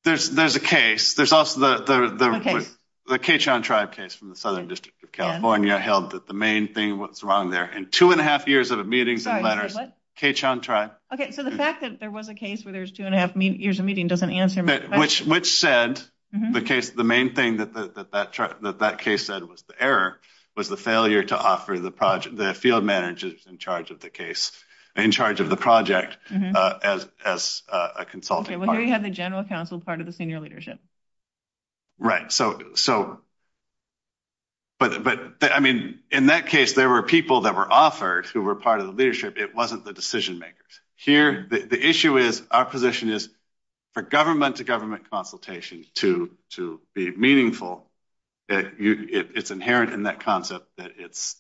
there's a case. There's also the Keachon tribe case from the Southern District of California held that the main thing was wrong there. In two and a half years of meetings and letters, Keachon tribe. OK. So the fact that there was a case where there's two and a half years of meeting doesn't answer my question. Which said, the main thing that that case said was the error was the failure to offer the field managers in charge of the case, in charge of the project as a consulting party. OK. Right. So, but I mean, in that case, there were people that were authored who were part of the leadership. It wasn't the decision makers. Here, the issue is our position is for government to government consultations to be meaningful, that it's inherent in that concept that it's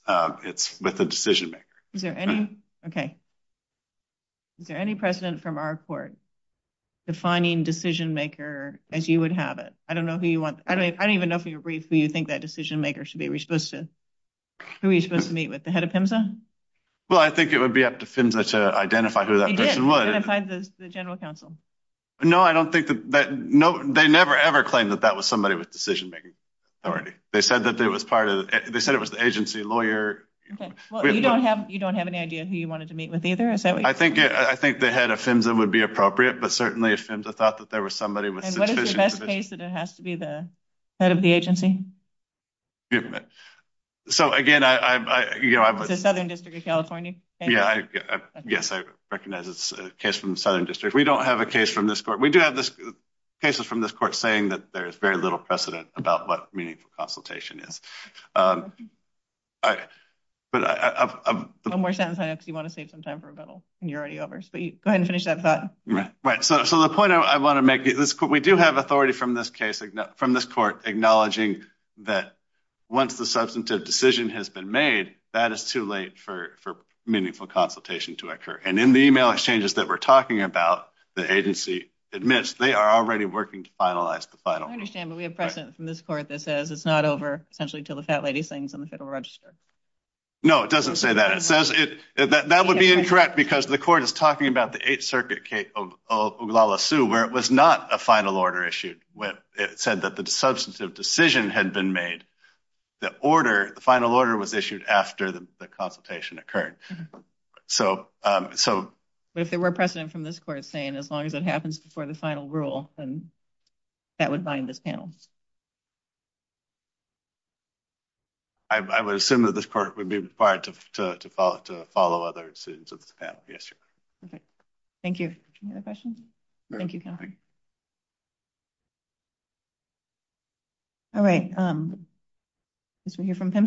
with the decision maker. Is there any? OK. Is there any precedent from our court defining decision maker as you would have it? I don't know who you want. I don't even know who you think that decision maker should be. We're supposed to. Who are you supposed to meet with? The head of PIMSA? Well, I think it would be up to PIMSA to identify who that person was. Identify the general counsel. No, I don't think that no, they never, ever claimed that that was somebody with decision making authority. They said that they was part of it. They said it was the agency lawyer. Well, you don't have you don't have any idea who you wanted to meet with either. I think the head of PIMSA would be appropriate. But certainly, if PIMSA thought that there was somebody. And what is the best case that it has to be the head of the agency? So again, I, you know. The Southern District of California? Yeah, yes. I recognize it's a case from the Southern District. We don't have a case from this court. We do have cases from this court saying that there is very little precedent about what meaningful consultation is. But one more sentence. I know you want to save some time for rebuttal. And you're already over. So go ahead and finish that thought. Right. So the point I want to make is we do have authority from this case, from this court acknowledging that once the substantive decision has been made, that is too late for meaningful consultation to occur. And in the email exchanges that we're talking about, the agency admits they are already working to finalize the final. I understand. But we have precedent from this court that says it's not over until the fat lady signs on the federal register. No, it doesn't say that. It says that would be incorrect because the court is talking about the Eighth Circuit case of Oglala Sioux, where it was not a final order issued. When it said that the substantive decision had been made, the order, the final order was issued after the consultation occurred. So if there were precedent from this court saying as long as it happens before the final rule, then that would bind this panel. I would assume that this part would be required to follow other students. Yes, sir. Okay. Thank you. Any other questions? Thank you. All right. Let's hear from Tim.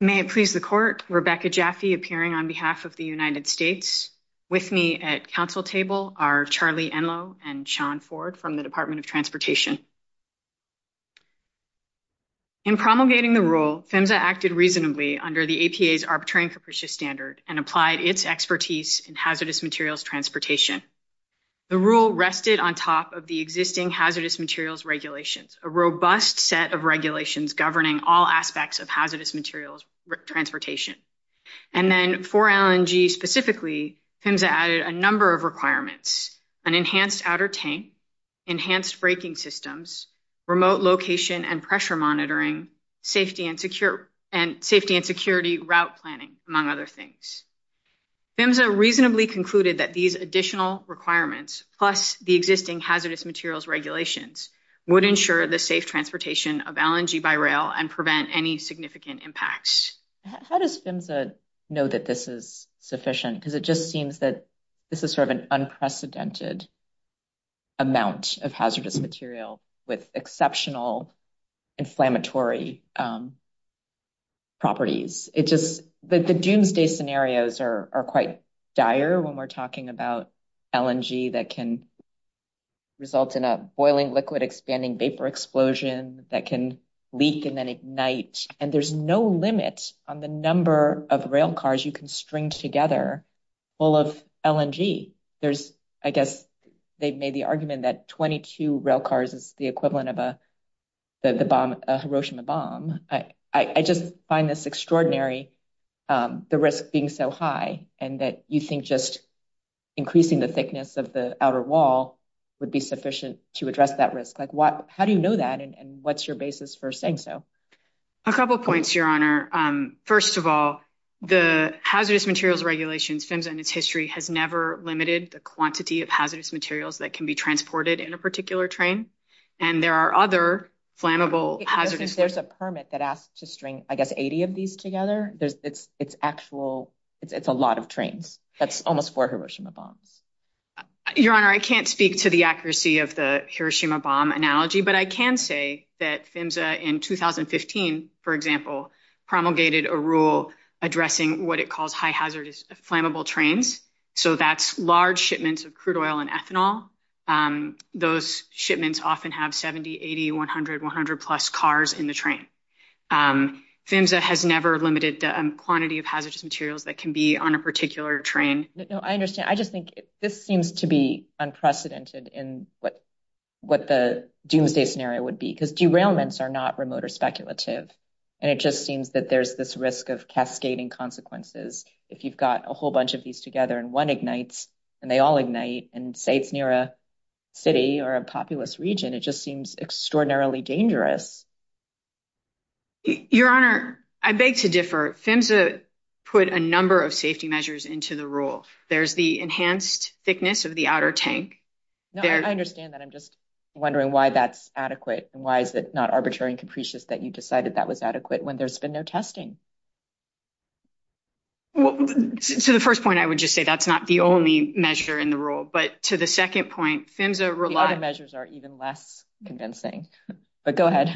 May it please the court, Rebecca Jaffe, appearing on behalf of the United States. With me at council table are Charlie Enloe and Sean Ford from the Department of Transportation. In promulgating the rule, PHMSA acted reasonably under the APA's Arbitrary and Capricious Standard and applied its expertise in hazardous materials transportation. The rule rested on top of the existing hazardous materials regulations, a rule that was passed of regulations governing all aspects of hazardous materials transportation. And then for LNG specifically, PHMSA added a number of requirements, an enhanced outer tank, enhanced braking systems, remote location and pressure monitoring, safety and security route planning, among other things. PHMSA reasonably concluded that these additional requirements, plus the existing hazardous materials regulations, would ensure the safe transportation of LNG by rail and prevent any significant impacts. How does PHMSA know that this is sufficient? Because it just seems that this is sort of an unprecedented amount of hazardous material with exceptional inflammatory properties. It's just the doomsday scenarios are quite dire when we're talking about LNG that can result in a boiling liquid expanding vapor explosion that can leak and then ignite. And there's no limit on the number of railcars you can string together full of LNG. There's, I guess, they've made the argument that 22 railcars is the equivalent of a Hiroshima bomb. I just find this extraordinary, the risk being so high, and that you think just increasing the thickness of the outer wall would be sufficient to address that risk. How do you know that? And what's your basis for saying so? A couple of points, Your Honor. First of all, the hazardous materials regulations, PHMSA in its history, has never limited the quantity of hazardous materials that can be transported in a particular train. And there are other flammable hazardous- There's a permit that asks to string, I guess, 80 of these together. It's actual, it's a lot of trains. That's almost for a Hiroshima bomb. Your Honor, I can't speak to the accuracy of the Hiroshima bomb analogy, but I can say that PHMSA in 2015, for example, promulgated a rule addressing what it calls high hazardous flammable trains. So that's large shipments of crude oil and ethanol. Those shipments often have 70, 80, 100, 100 plus cars in the train. PHMSA has never limited the quantity of hazardous materials that can be on a particular train. No, I understand. I just think this seems to be unprecedented in what the doomsday scenario would be. Because derailments are not remote or speculative. And it just seems that there's this risk of cascading consequences. If you've got a whole bunch of these together and one ignites, and they all ignite, and say it's near a city or a populous region, it just seems extraordinarily dangerous. Your Honor, I beg to differ. PHMSA put a number of safety measures into the rule. There's the enhanced thickness of the outer tank. No, I understand that. I'm just wondering why that's adequate. And why is it not arbitrary and capricious that you decided that was adequate when there's been no testing? To the first point, I would just say that's not the only measure in the rule. But to the second point, PHMSA relies- The other measures are even less convincing. But go ahead.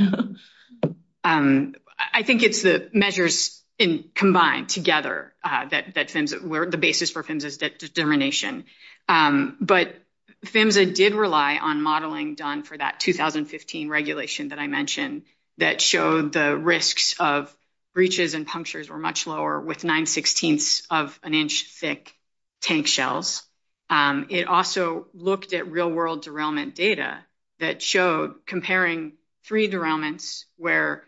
I think it's the measures combined together that were the basis for PHMSA's determination. But PHMSA did rely on modeling done for that 2015 regulation that I mentioned that showed the risks of breaches and punctures were much lower with 9 sixteenths of an inch thick tank shells. It also looked at real world derailment data that showed comparing three derailments where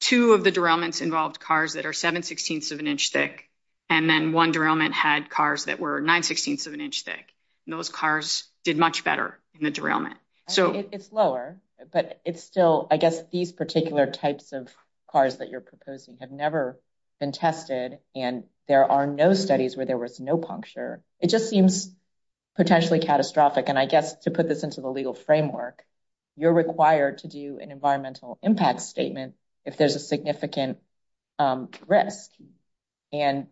two of the derailments involved cars that are 7 sixteenths of an inch thick, and then one derailment had cars that were 9 sixteenths of an inch thick. Those cars did much better in the derailment. It's lower, but it's still, I guess, these particular types of cars that you're proposing have never been tested. And there are no studies where there was no puncture. It just seems potentially catastrophic. And I guess to put this into the legal framework, you're required to do an environmental impact statement if there's a significant risk. And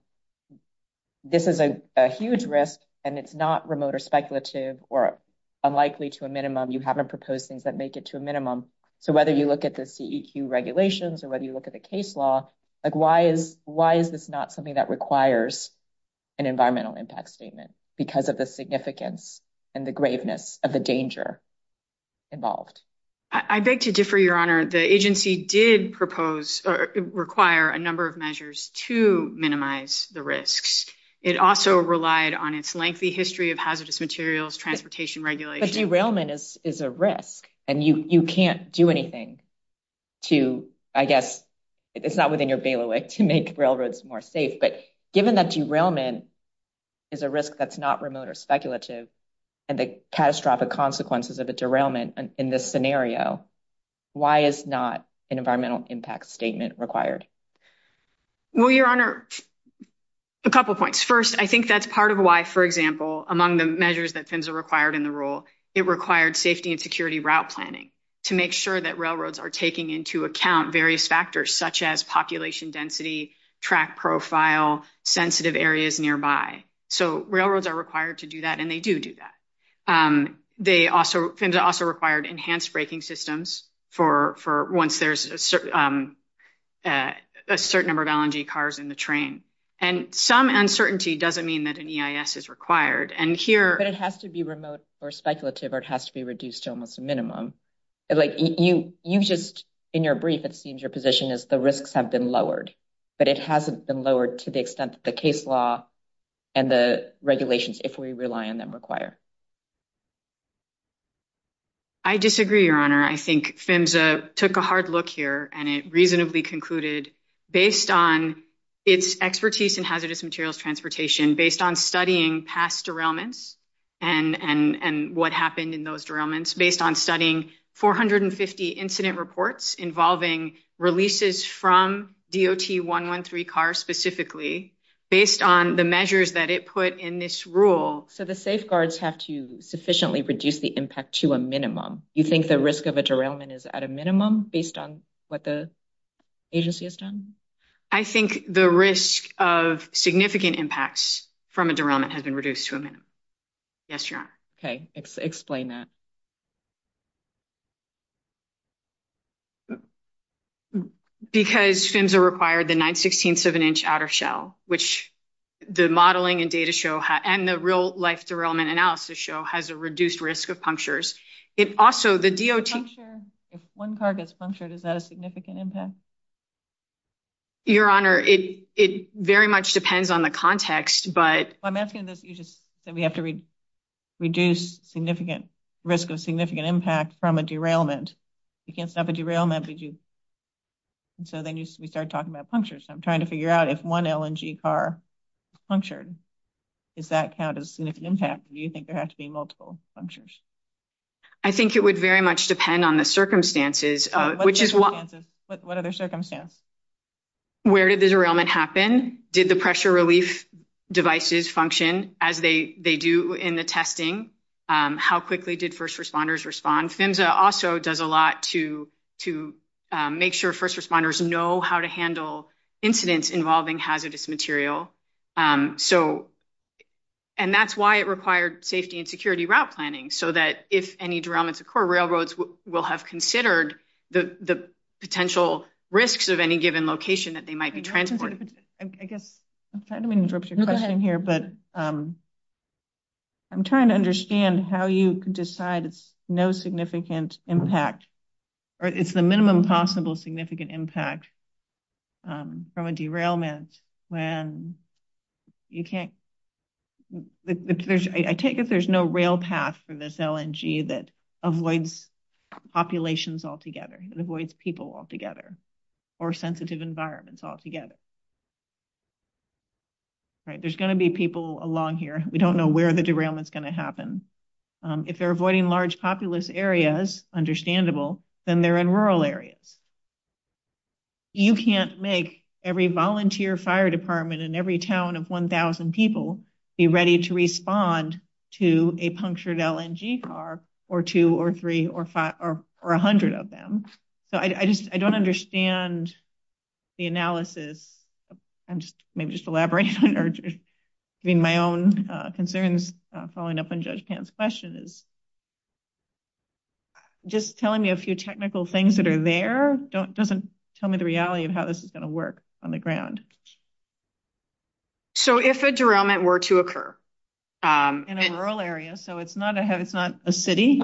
this is a huge risk, and it's not remote or speculative or unlikely to a minimum. You haven't proposed things that make it to a minimum. So whether you look at the CEQ regulations or whether you look at the case law, why is this not something that requires an environmental impact statement? Because of the significance and the graveness of the danger involved. I beg to differ, Your Honor. The agency did propose or require a number of measures to minimize the risks. It also relied on its lengthy history of hazardous materials, transportation regulations. But derailment is a risk, and you can't do anything to, I guess, it's not within your ability to make railroads more safe. But given that derailment is a risk that's not remote or speculative, and the catastrophic consequences of the derailment in this scenario, why is not an environmental impact statement required? Well, Your Honor, a couple of points. First, I think that's part of why, for example, among the measures that PHMSA required in the rule, it required safety and security route planning to make sure that railroads are taking into account various factors such as population density, track profile, sensitive areas nearby. So railroads are required to do that, and they do do that. They also, PHMSA also required enhanced braking systems for once there's a certain number of LNG cars in the train. And some uncertainty doesn't mean that an EIS is required. And here- But it has to be remote or speculative, or it has to be reduced to almost a minimum. Like, you just, in your brief, it seems your position is the risks have been lowered, but it hasn't been lowered to the extent that the case law and the regulations, if we rely on them, require. I disagree, Your Honor. I think PHMSA took a hard look here, and it reasonably concluded, based on its expertise in hazardous materials transportation, based on studying past derailments and what happened in those derailments, based on studying 450 incident reports involving releases from DOT 113 cars specifically, based on the measures that it put in this rule- So the safeguards have to sufficiently reduce the impact to a minimum. You think the risk of a derailment is at a minimum based on what the agency has done? I think the risk of significant impacts from a derailment has been reduced to a minimum. Yes, Your Honor. Explain that. Because PHMSA required the nine-sixteenths of an inch outer shell, which the modeling and data show, and the real-life derailment analysis show, has a reduced risk of punctures. Also, the DOT- If one car gets punctured, is that a significant impact? Your Honor, it very much depends on the context, but- I'm asking this because you said we have to reduce significant risk of significant impact from a derailment. You can't stop a derailment if you- So then you start talking about punctures. I'm trying to figure out if one LNG car is punctured, does that count as significant impact, or do you think there have to be multiple punctures? I think it would very much depend on the circumstances, which is- What other circumstances? Where did the derailment happen? Did the pressure relief devices function as they do in the testing? How quickly did first responders respond? PHMSA also does a lot to make sure first responders know how to handle incidents involving hazardous material. And that's why it required safety and security route planning, so that if any derailments occur, railroads will have considered the potential risks of any given location that they might be transporting. I guess I'm trying to interrupt your question here, but I'm trying to understand how you could decide it's no significant impact, or it's the minimum possible significant impact from a derailment when you can't- I take it there's no rail path for this LNG that avoids populations altogether, it avoids people altogether, or sensitive environments altogether. All right, there's going to be people along here. We don't know where the derailment's going to happen. If they're avoiding large populous areas, understandable, then they're in rural areas. You can't make every volunteer fire department in every town of 1,000 people be ready to respond to a punctured LNG car, or two, or three, or five, or a hundred of them. I don't understand the analysis, and maybe just elaborating, or giving my own concerns following up on Judge Pam's question. Just telling me a few technical things that are there doesn't tell me the reality of how this is going to work on the ground. If a derailment were to occur- In a rural area, so it's not a city.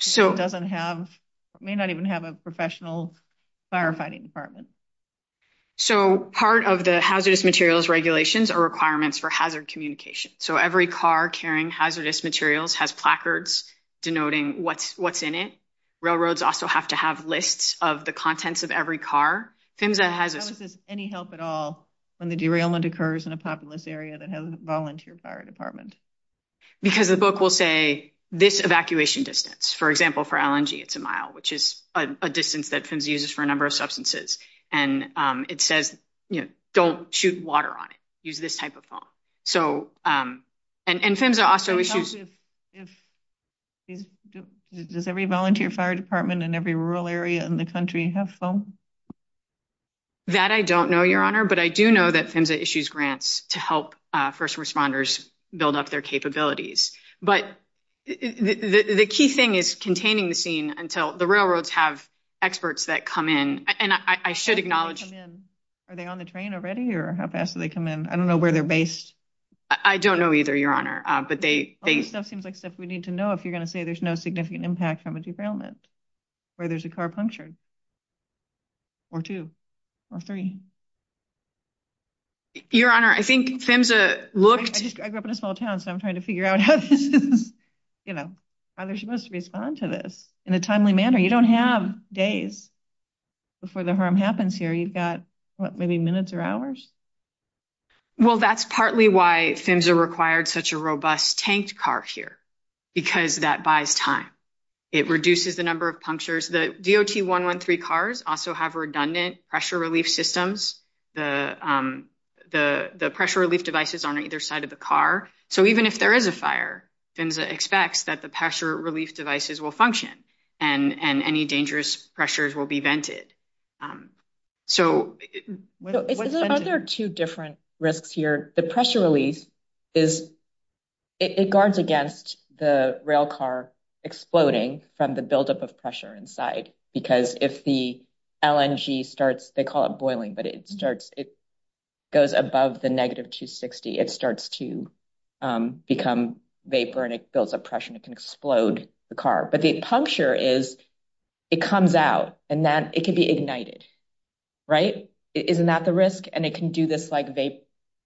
It may not even have a professional firefighting department. Part of the hazardous materials regulations are requirements for hazard communication. Every car carrying hazardous materials has placards denoting what's in it. Railroads also have to have lists of the contents of every car. I don't think there's any help at all when the derailment occurs in a populous area that has a volunteer fire department. Because the book will say, this evacuation distance. For example, for LNG, it's a mile, which is a distance that CIMS uses for a number of substances. It says, don't shoot water on it. Use this type of foam. Does every volunteer fire department in every rural area in the country have foam? That I don't know, Your Honor, but I do know that CIMS issues grants to help first responders build up their capabilities. But the key thing is containing the scene until the railroads have experts that come in. And I should acknowledge- Are they on the train already? Or how fast do they come in? I don't know where they're based. I don't know either, Your Honor, but they- All this stuff seems like stuff we need to know if you're going to say there's no significant impact from a derailment, or there's a car punctured, or two, or three. Your Honor, I think CIMS looked- I grew up in a small town, so I'm trying to figure out how they're supposed to respond to this in a timely manner. You don't have days before the harm happens here. You've got, what, maybe minutes or hours? Well, that's partly why CIMS required such a robust tanked car here, because that buys time. It reduces the number of punctures. The DOT-113 cars also have redundant pressure relief systems. The pressure relief devices are on either side of the car. So even if there is a fire, CIMS expects that the pressure relief devices will function and any dangerous pressures will be vented. So- Are there two different risks here? The pressure release is- Because if the LNG starts- They call it boiling, but it starts- It goes above the negative 260. It starts to become vapor, and it builds up pressure, and it can explode the car. But the puncture is- It comes out, and that- It could be ignited, right? Isn't that the risk? And it can do this, like,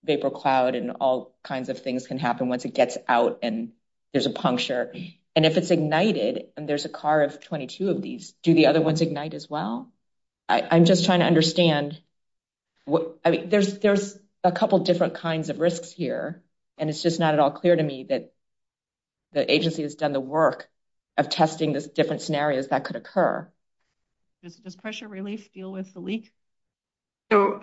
vapor cloud, and all kinds of things can happen once it gets out, and there's a puncture. And if it's ignited, and there's a car of 22 of these, do the other ones ignite as well? I'm just trying to understand. There's a couple different kinds of risks here, and it's just not at all clear to me that the agency has done the work of testing the different scenarios that could occur. Does pressure relief deal with the leaks? So-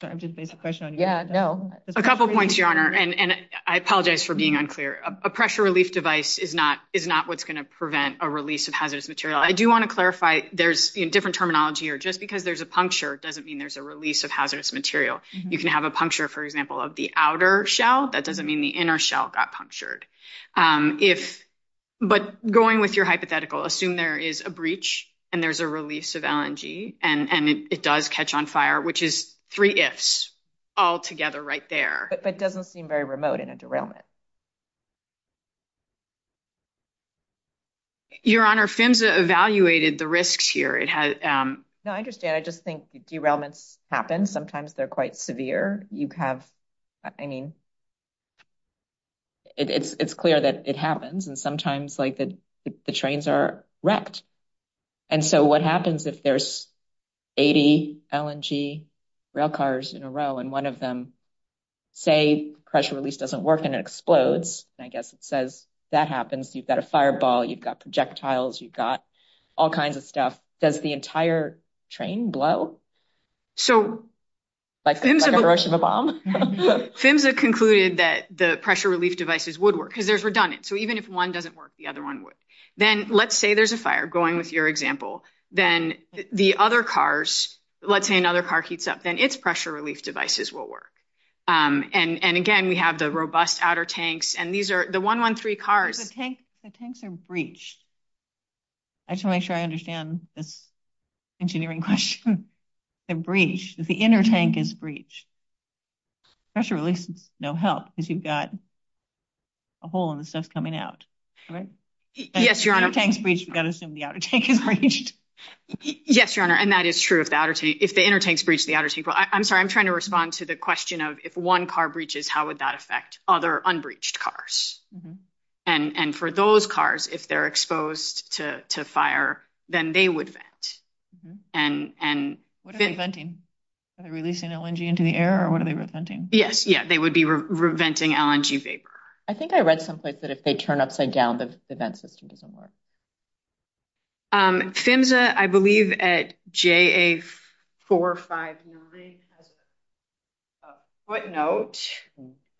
Sorry, I'm just basing the question on you. Yeah, no. A couple points, Your Honor, and I apologize for being unclear. A pressure relief device is not what's going to prevent a release of hazardous material. I do want to clarify, there's different terminology here. Just because there's a puncture doesn't mean there's a release of hazardous material. You can have a puncture, for example, of the outer shell. That doesn't mean the inner shell got punctured. But going with your hypothetical, assume there is a breach, and there's a release of LNG, and it does catch on fire, which is three ifs all together right there. But it doesn't seem very remote in a derailment. Your Honor, PHMSA evaluated the risks here. No, I understand. I just think derailments happen. Sometimes they're quite severe. You have, I mean, it's clear that it happens, and sometimes the trains are wrecked. And so what happens if there's 80 LNG railcars in a row, and one of them, say, pressure release doesn't work, and it explodes? I guess it says that happens. You've got a fireball. You've got projectiles. You've got all kinds of stuff. Does the entire train blow? So PHMSA concluded that the pressure relief devices would work, because there's redundancy. Even if one doesn't work, the other one would. Then let's say there's a fire, going with your example. Then the other cars, let's say another car heats up. Then its pressure relief devices will work. And again, we have the robust outer tanks. And these are the 113 cars. The tanks are breached. I just want to make sure I understand this engineering question. They're breached. The inner tank is breached. Pressure release is no help, because you've got a hole in the stuff coming out. Yes, Your Honor. If the inner tank is breached, we've got to assume the outer tank is breached. Yes, Your Honor, and that is true. If the inner tank is breached, the outer is equal. I'm sorry. I'm trying to respond to the question of, if one car breaches, how would that affect other unbreached cars? And for those cars, if they're exposed to fire, then they would vent. What are they venting? Are they releasing LNG into the air, or what are they venting? Yes, they would be venting LNG vapor. I think I read someplace that if they turn upside down, the vent system doesn't work. SAMHSA, I believe at JA459, there's a footnote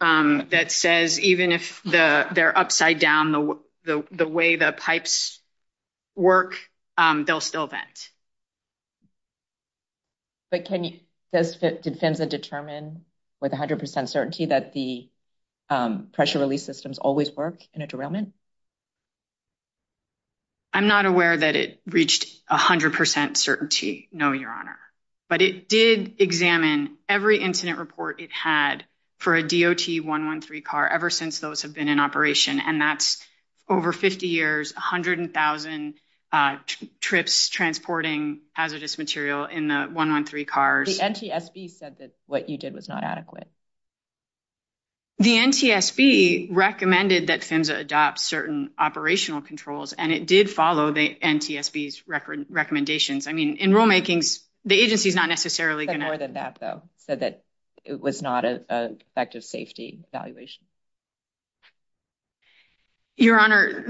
that says even if they're upside down, the way the pipes work, they'll still vent. But can you – did SAMHSA determine with 100 percent certainty that the pressure release systems always work in a derailment? I'm not aware that it reached 100 percent certainty, no, Your Honor. But it did examine every incident report it had for a DOT-113 car ever since those have been in operation, and that's over 50 years, 100,000 trips transporting hazardous material in the 113 cars. The NTSB said that what you did was not adequate. The NTSB recommended that SAMHSA adopt certain operational controls, and it did follow the NTSB's recommendations. I mean, in rulemaking, the agency's not necessarily going to – It's more than that, though, so that it was not an effective safety evaluation. Your Honor,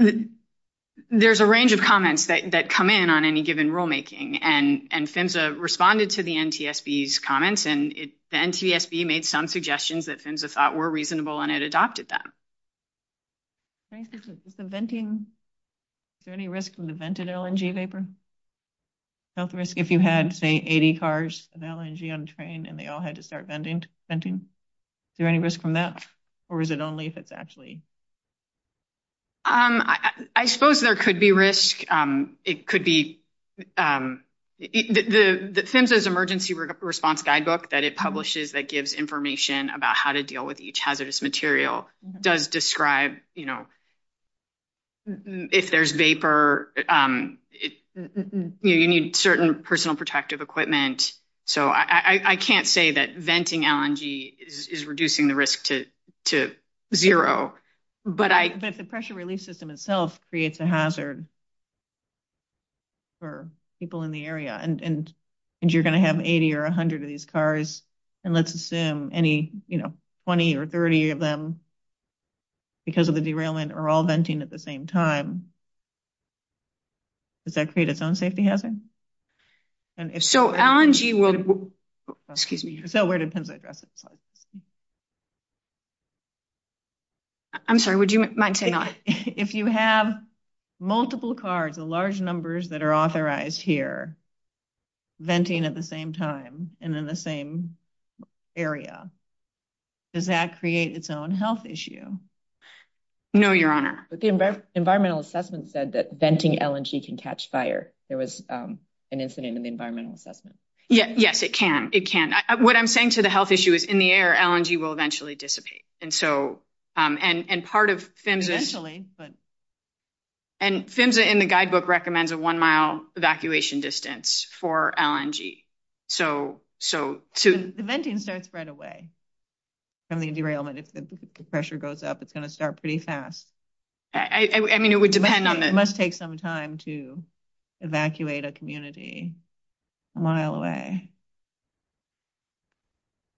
there's a range of comments that come in on any given rulemaking, and SAMHSA responded to the NTSB's comments, and the NTSB made some suggestions that SAMHSA thought were reasonable, and it adopted them. Is there any risk from the vented LNG vapor? Is there any risk if you had, say, 80 cars with LNG on the train, and they all had to start venting? Is there any risk from that? Or is it only if it's actually – I suppose there could be risk. It could be – the SAMHSA's emergency response guidebook that it publishes that gives information about how to deal with each hazardous material does describe, you know, if there's vapor – you need certain personal protective equipment. So, I can't say that venting LNG is reducing the risk to zero, but I – But the pressure release system itself creates a hazard. For people in the area, and you're going to have 80 or 100 of these cars, and let's assume any, you know, 20 or 30 of them, because of the derailment, are all venting at the same time, does that create its own safety hazard? So, LNG will – excuse me. I'm sorry, would you mind saying that? If you have multiple cars, the large numbers that are authorized here, venting at the same time and in the same area, does that create its own health issue? No, Your Honor. But the environmental assessment said that venting LNG can catch fire. There was an incident in the environmental assessment. Yes, it can. It can. What I'm saying to the health issue is in the air, LNG will eventually dissipate. And so – and part of PHMSA – Eventually, but – And PHMSA in the guidebook recommends a one-mile evacuation distance for LNG. So, to – The venting starts right away from the derailment. If the pressure goes up, it's going to start pretty fast. I mean, it would depend on the – It must take some time to evacuate a community a mile away.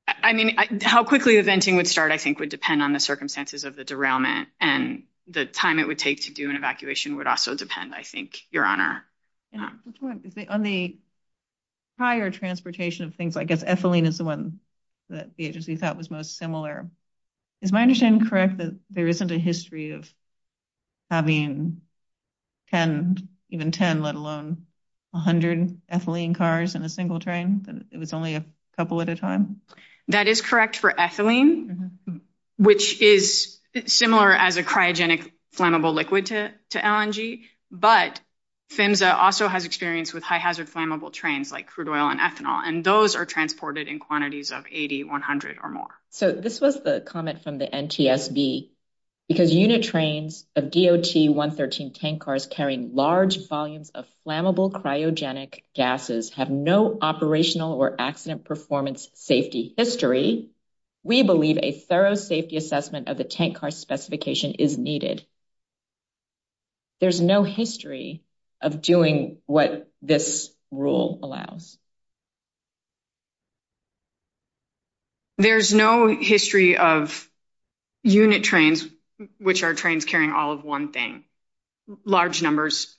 I mean, how quickly the venting would start, I think, would depend on the circumstances of the derailment, and the time it would take to do an evacuation would also depend, I think, Your Honor. On the prior transportation of things, I guess ethylene is the one that the agency thought was most similar. Is my understanding correct that there isn't a history of having 10, even 10, let alone 100 ethylene cars in a single train? It was only a couple at a time? That is correct for ethylene, which is similar as a cryogenic flammable liquid to LNG, but PHMSA also has experience with high-hazard flammable trains like crude oil and ethanol, and those are transported in quantities of 80, 100, or more. So, this was the comment from the NTSB. Because unit trains of DOT-113 tankers carrying large volumes of flammable cryogenic gases have no operational or accident performance safety history, we believe a thorough safety assessment of the tank car specification is needed. There's no history of doing what this rule allows. There's no history of unit trains, which are trains carrying all of one thing, large numbers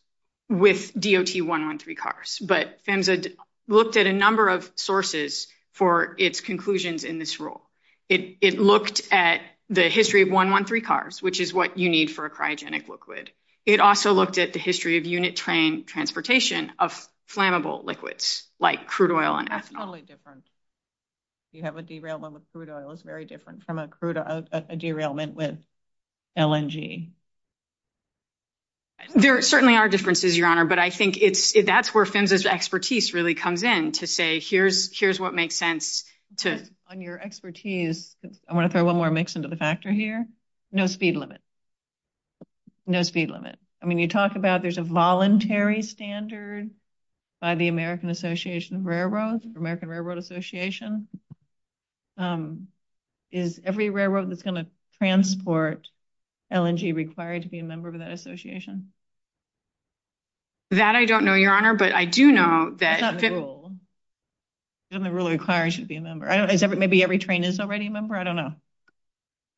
with DOT-113 cars. But PHMSA looked at a number of sources for its conclusions in this rule. It looked at the history of 113 cars, which is what you need for a cryogenic liquid. It also looked at the history of unit train transportation of flammable liquids like crude oil and ethanol. Totally different. You have a derailment with crude oil. It's very different from a derailment with LNG. There certainly are differences, Your Honor, but I think that's where PHMSA's expertise really comes in to say, here's what makes sense to... On your expertise, I want to throw one more mix into the factor here. No speed limit. No speed limit. I mean, you talk about there's a voluntary standard by the American Association of Railroads, American Railroad Association, is every railroad that's going to transport LNG required to be a member of that association? That I don't know, Your Honor. But I do know that... That's not the rule. The rule requires you to be a member. Maybe every train is already a member? I don't know.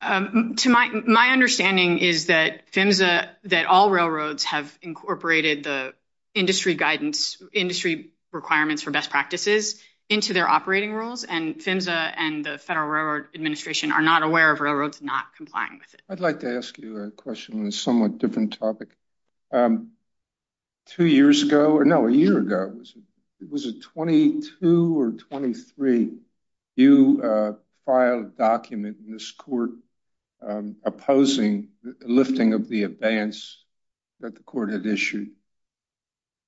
My understanding is that PHMSA, that all railroads have incorporated the industry guidance, industry requirements for best practices into their operating rules, and PHMSA and the Federal Railroad Administration are not aware of railroads not complying with it. I'd like to ask you a question on a somewhat different topic. Two years ago, no, a year ago, was it 22 or 23, you filed a document in this court opposing lifting of the abeyance that the court had issued.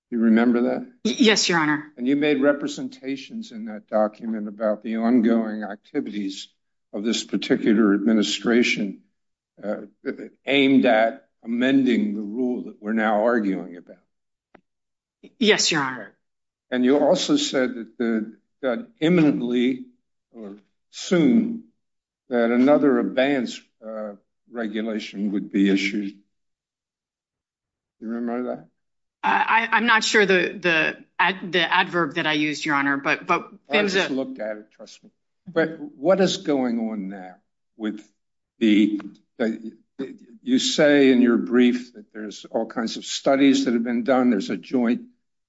You remember that? Yes, Your Honor. And you made representations in that document about the ongoing activities of this particular administration aimed at amending the rule that we're now arguing about. Yes, Your Honor. And you also said that imminently, or soon, that another abeyance regulation would be issued. Do you remember that? I'm not sure the adverb that I used, Your Honor, but... I just looked at it, trust me. But what is going on now with the... You say in your brief that there's all kinds of studies that have been done. There's a joint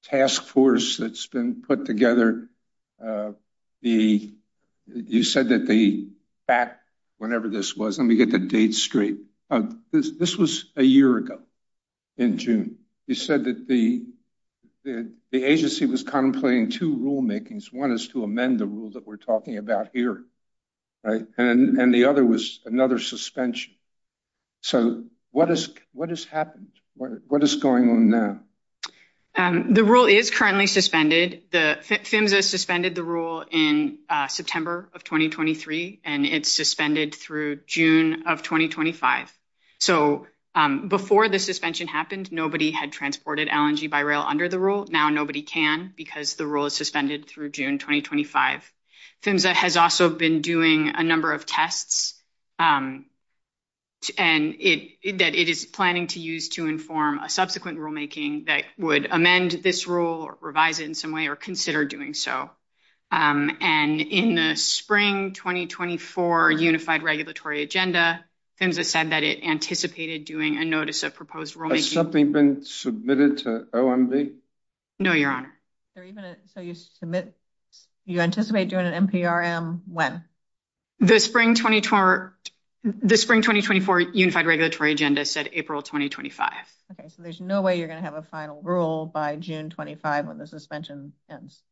task force that's been put together. You said that the fact, whenever this was, let me get the date straight. This was a year ago in June. You said that the agency was contemplating two rulemakings. One is to amend the rule that we're talking about here. And the other was another suspension. So what has happened? What is going on now? The rule is currently suspended. PHMSA suspended the rule in September of 2023, and it's suspended through June of 2025. So before the suspension happened, nobody had transported LNG by rail under the rule. Now nobody can, because the rule is suspended through June 2025. PHMSA has also been doing a number of tests, and that it is planning to use to inform a subsequent rulemaking that would amend this rule, revise it in some way, or consider doing so. And in the spring 2024 Unified Regulatory Agenda, PHMSA said that it anticipated doing a notice of proposed rulemaking. Has something been submitted to OMB? No, Your Honor. So you anticipate doing an NPRM when? The spring 2024 Unified Regulatory Agenda said April 2025. Okay, so there's no way you're going to have a final rule by June 2025 when the suspension ends.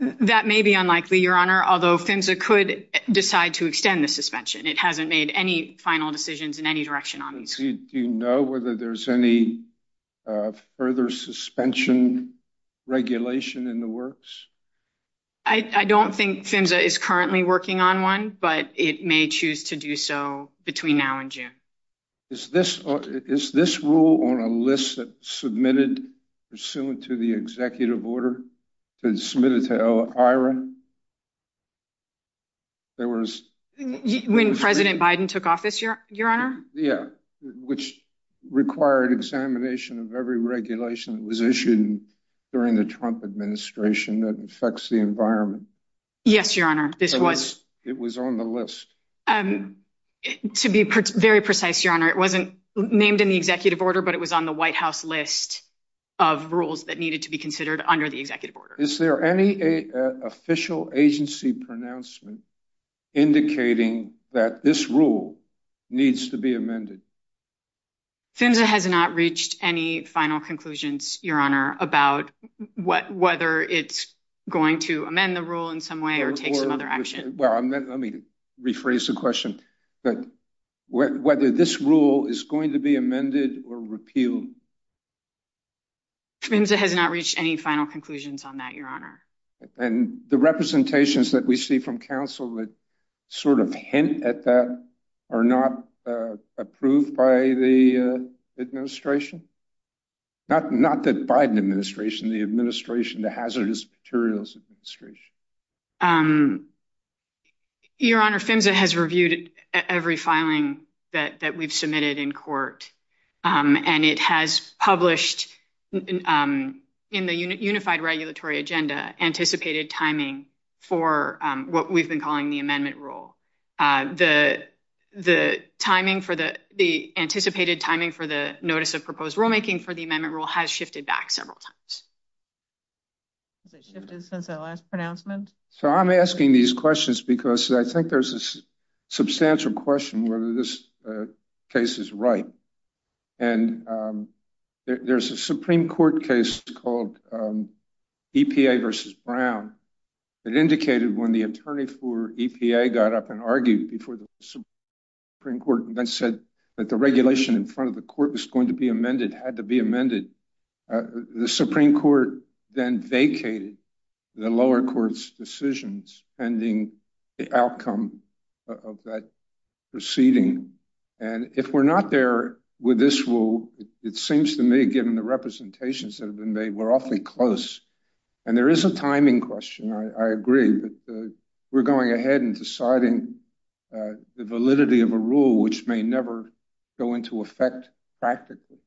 That may be unlikely, Your Honor, although PHMSA could decide to extend the suspension. It hasn't made any final decisions in any direction on this. Do you know whether there's any further suspension regulation in the works? I don't think PHMSA is currently working on one, but it may choose to do so between now and June. Is this rule on a list that's submitted pursuant to the executive order that's submitted to ELIRA? When President Biden took office, Your Honor? Yeah, which required examination of every regulation that was issued during the Trump administration that affects the environment. Yes, Your Honor, this was. It was on the list. To be very precise, Your Honor, it wasn't named in the executive order, but it was on the White House list of rules that needed to be considered under the executive order. Is there any official agency pronouncement indicating that this rule needs to be amended? PHMSA has not reached any final conclusions, Your Honor, about whether it's going to amend the rule in some way or take some other action. Well, let me rephrase the question. Whether this rule is going to be amended or repealed? PHMSA has not reached any final conclusions on that, Your Honor. And the representations that we see from counsel that sort of hint at that are not approved by the administration? Not that Biden administration, the administration, the hazardous materials administration. Your Honor, PHMSA has reviewed every filing that we've submitted in court, and it has published in the Unified Regulatory Agenda anticipated timing for what we've been calling the amendment rule. The anticipated timing for the notice of proposed rulemaking for the amendment rule has shifted back several times. Has it shifted since that last pronouncement? So I'm asking these questions because I think there's a substantial question whether this case is right. And there's a Supreme Court case called EPA versus Brown that indicated when the attorney for EPA got up and argued before the Supreme Court and then said that the regulation in front of the court was going to be amended, had to be amended. The Supreme Court then vacated the lower court's decisions pending the outcome of that proceeding. And if we're not there with this rule, it seems to me, given the representations that have been made, we're awfully close. And there is a timing question, I agree, but we're going ahead and deciding the validity of a rule which may never go into effect practically.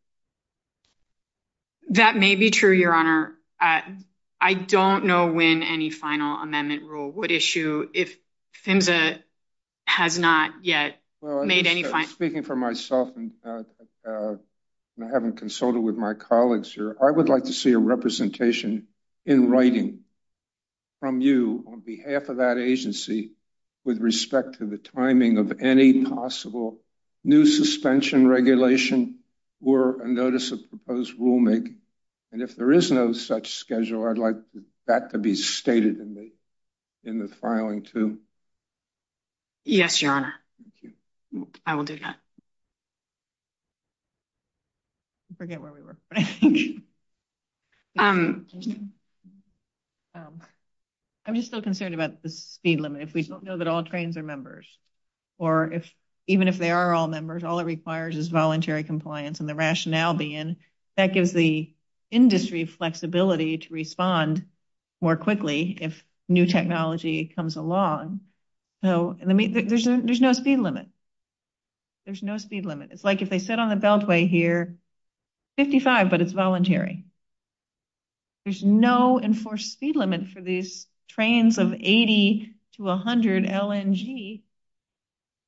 That may be true, Your Honor. I don't know when any final amendment rule would issue if PHMSA has not yet made any decision. Speaking for myself and having consulted with my colleagues here, I would like to see a representation in writing from you on behalf of that agency with respect to the timing of any possible new suspension regulation or a notice of proposed rulemaking. And if there is no such schedule, I'd like that to be stated in the filing too. Yes, Your Honor. Thank you. I will do that. I forget where we were. I'm just so concerned about the speed limit. If we don't know that all trains are members, or even if they are all members, all it requires is voluntary compliance and the rationale being that gives the industry flexibility to respond more quickly if new technology comes along. So there's no speed limit. There's no speed limit. It's like if they sit on the beltway here, 55, but it's voluntary. There's no enforced speed limit for these trains of 80 to 100 LNG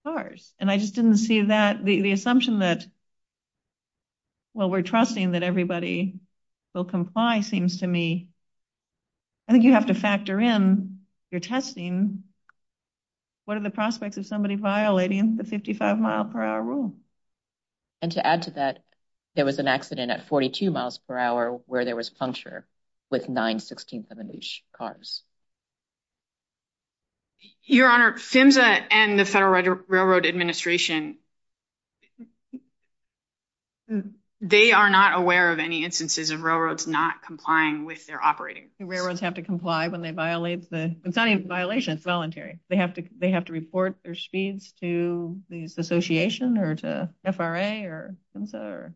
cars. And I just didn't see that. The assumption that, well, we're trusting that everybody will comply seems to me, I don't think that's true. What are the prospects of somebody violating the 55 mile per hour rule? And to add to that, there was an accident at 42 miles per hour where there was puncture with nine 16th of an inch cars. Your Honor, SAMHSA and the Federal Railroad Administration, they are not aware of any instances of railroads not complying with their operating. Railroads have to comply when they violate the, it's not even a violation, it's voluntary. They have to report their speeds to the association or to FRA or SAMHSA or.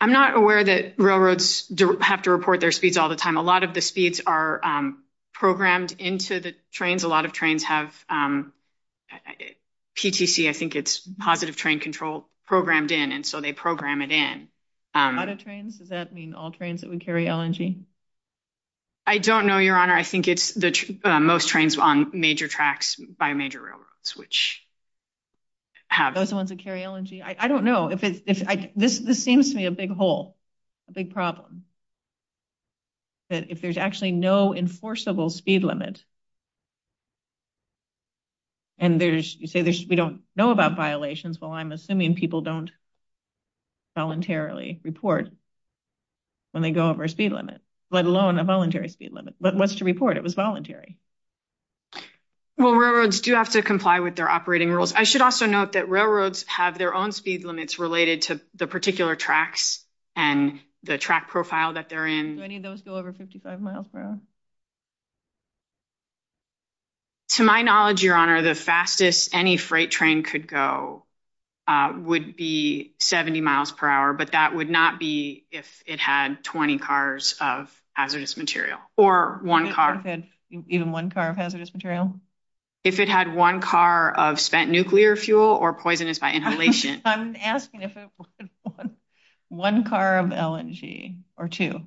I'm not aware that railroads have to report their speeds all the time. A lot of the speeds are programmed into the trains. A lot of trains have PTC, I think it's positive train control programmed in. And so they program it in. Out of trains, does that mean all trains that would carry LNG? I don't know, Your Honor. I think it's most trains on major tracks by major railroads, which have. Those ones that carry LNG, I don't know. This seems to me a big hole, a big problem. If there's actually no enforceable speed limit, and you say we don't know about violations. Well, I'm assuming people don't voluntarily report when they go over a speed limit, let alone a voluntary speed limit. But what's the report? It was voluntary. Well, railroads do have to comply with their operating rules. I should also note that railroads have their own speed limits related to the particular tracks and the track profile that they're in. Do any of those go over 55 miles per hour? To my knowledge, Your Honor, the fastest any freight train could go would be 70 miles per hour, but that would not be if it had 20 cars of hazardous material. Or one car. Even one car of hazardous material? If it had one car of spent nuclear fuel or poisonous by inhalation. I'm asking if it was one car of LNG or two.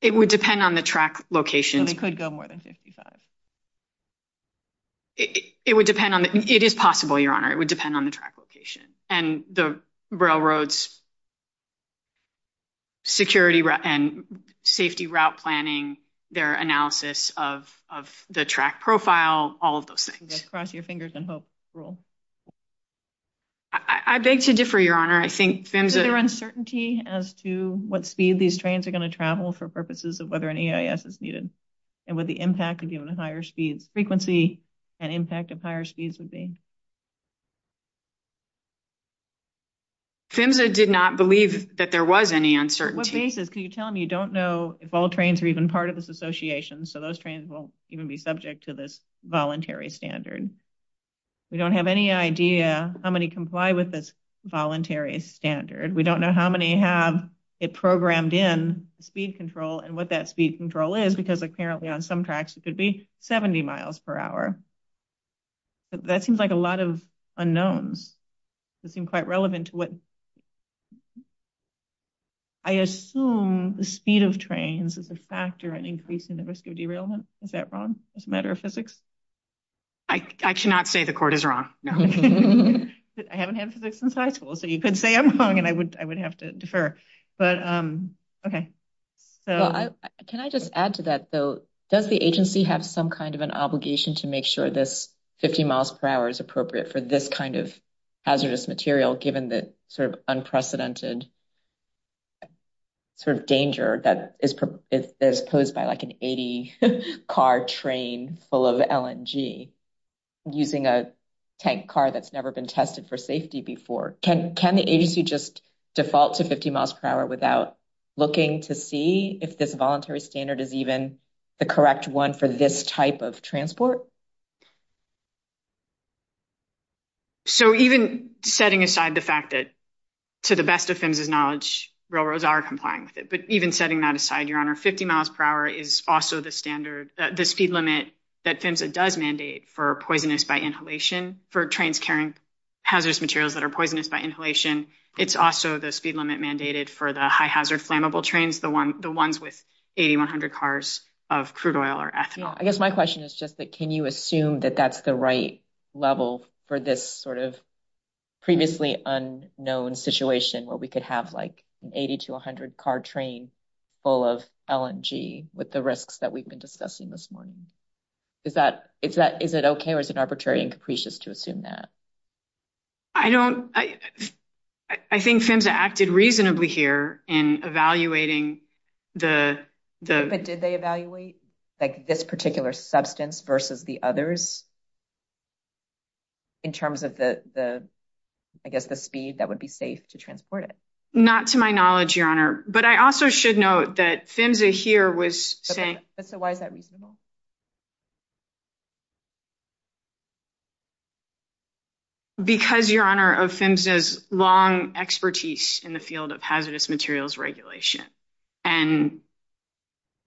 It would depend on the track location. They could go more than 55. It is possible, Your Honor. It would depend on the track location. And the railroad's security and safety route planning, their analysis of the track profile, all of those things. Cross your fingers and hope, rule. I beg to differ, Your Honor. Is there uncertainty as to what speed these trains are going to travel for purposes of whether an EIS is needed? And what the impact would be on the higher speed frequency and impact of higher speeds would be? Simza did not believe that there was any uncertainty. What basis? Can you tell me? You don't know if all trains are even part of this association, so those trains won't even be subject to this voluntary standard. We don't have any idea how many comply with this voluntary standard. We don't know how many have it programmed in speed control and what that speed control is, because apparently on some tracks, it could be 70 miles per hour. That seems like a lot of unknowns. It seems quite relevant to what... I assume the speed of trains is a factor in increasing the risk of derailment. Is that wrong as a matter of physics? I should not say the court is wrong. I haven't had physics in high school, so you could say I'm wrong, and I would have to defer. But, okay. Can I just add to that, though? Does the agency have some kind of an obligation to make sure this 50 miles per hour is appropriate for this kind of hazardous material, given the unprecedented danger that is posed by an 80-car train full of LNG using a tank car that's never been tested for safety before? Can the agency just default to 50 miles per hour without looking to see if this voluntary standard is even the correct one for this type of transport? So, even setting aside the fact that, to the best of FEMSA's knowledge, railroads are complying with it. But even setting that aside, Your Honor, 50 miles per hour is also the standard, the speed limit that FEMSA does mandate for poisonous by inhalation, for trains carrying hazardous materials that are poisonous by inhalation. It's also the speed limit mandated for the high-hazard flammable trains, the ones with 8,100 cars of crude oil or ethanol. I guess my question is just that, can you assume that that's the right level for this sort of previously unknown situation where we could have, like, an 80-to-100-car train full of LNG with the risks that we've been discussing this morning? Is it okay or is it arbitrary and capricious to assume that? I don't—I think FEMSA acted reasonably here in evaluating the— But did they evaluate, like, this particular substance versus the others in terms of the, I guess, the speed that would be safe to transport it? Not to my knowledge, Your Honor. But I also should note that FEMSA here was saying— But so why is that reasonable? Because, Your Honor, of FEMSA's long expertise in the field of hazardous materials regulation. And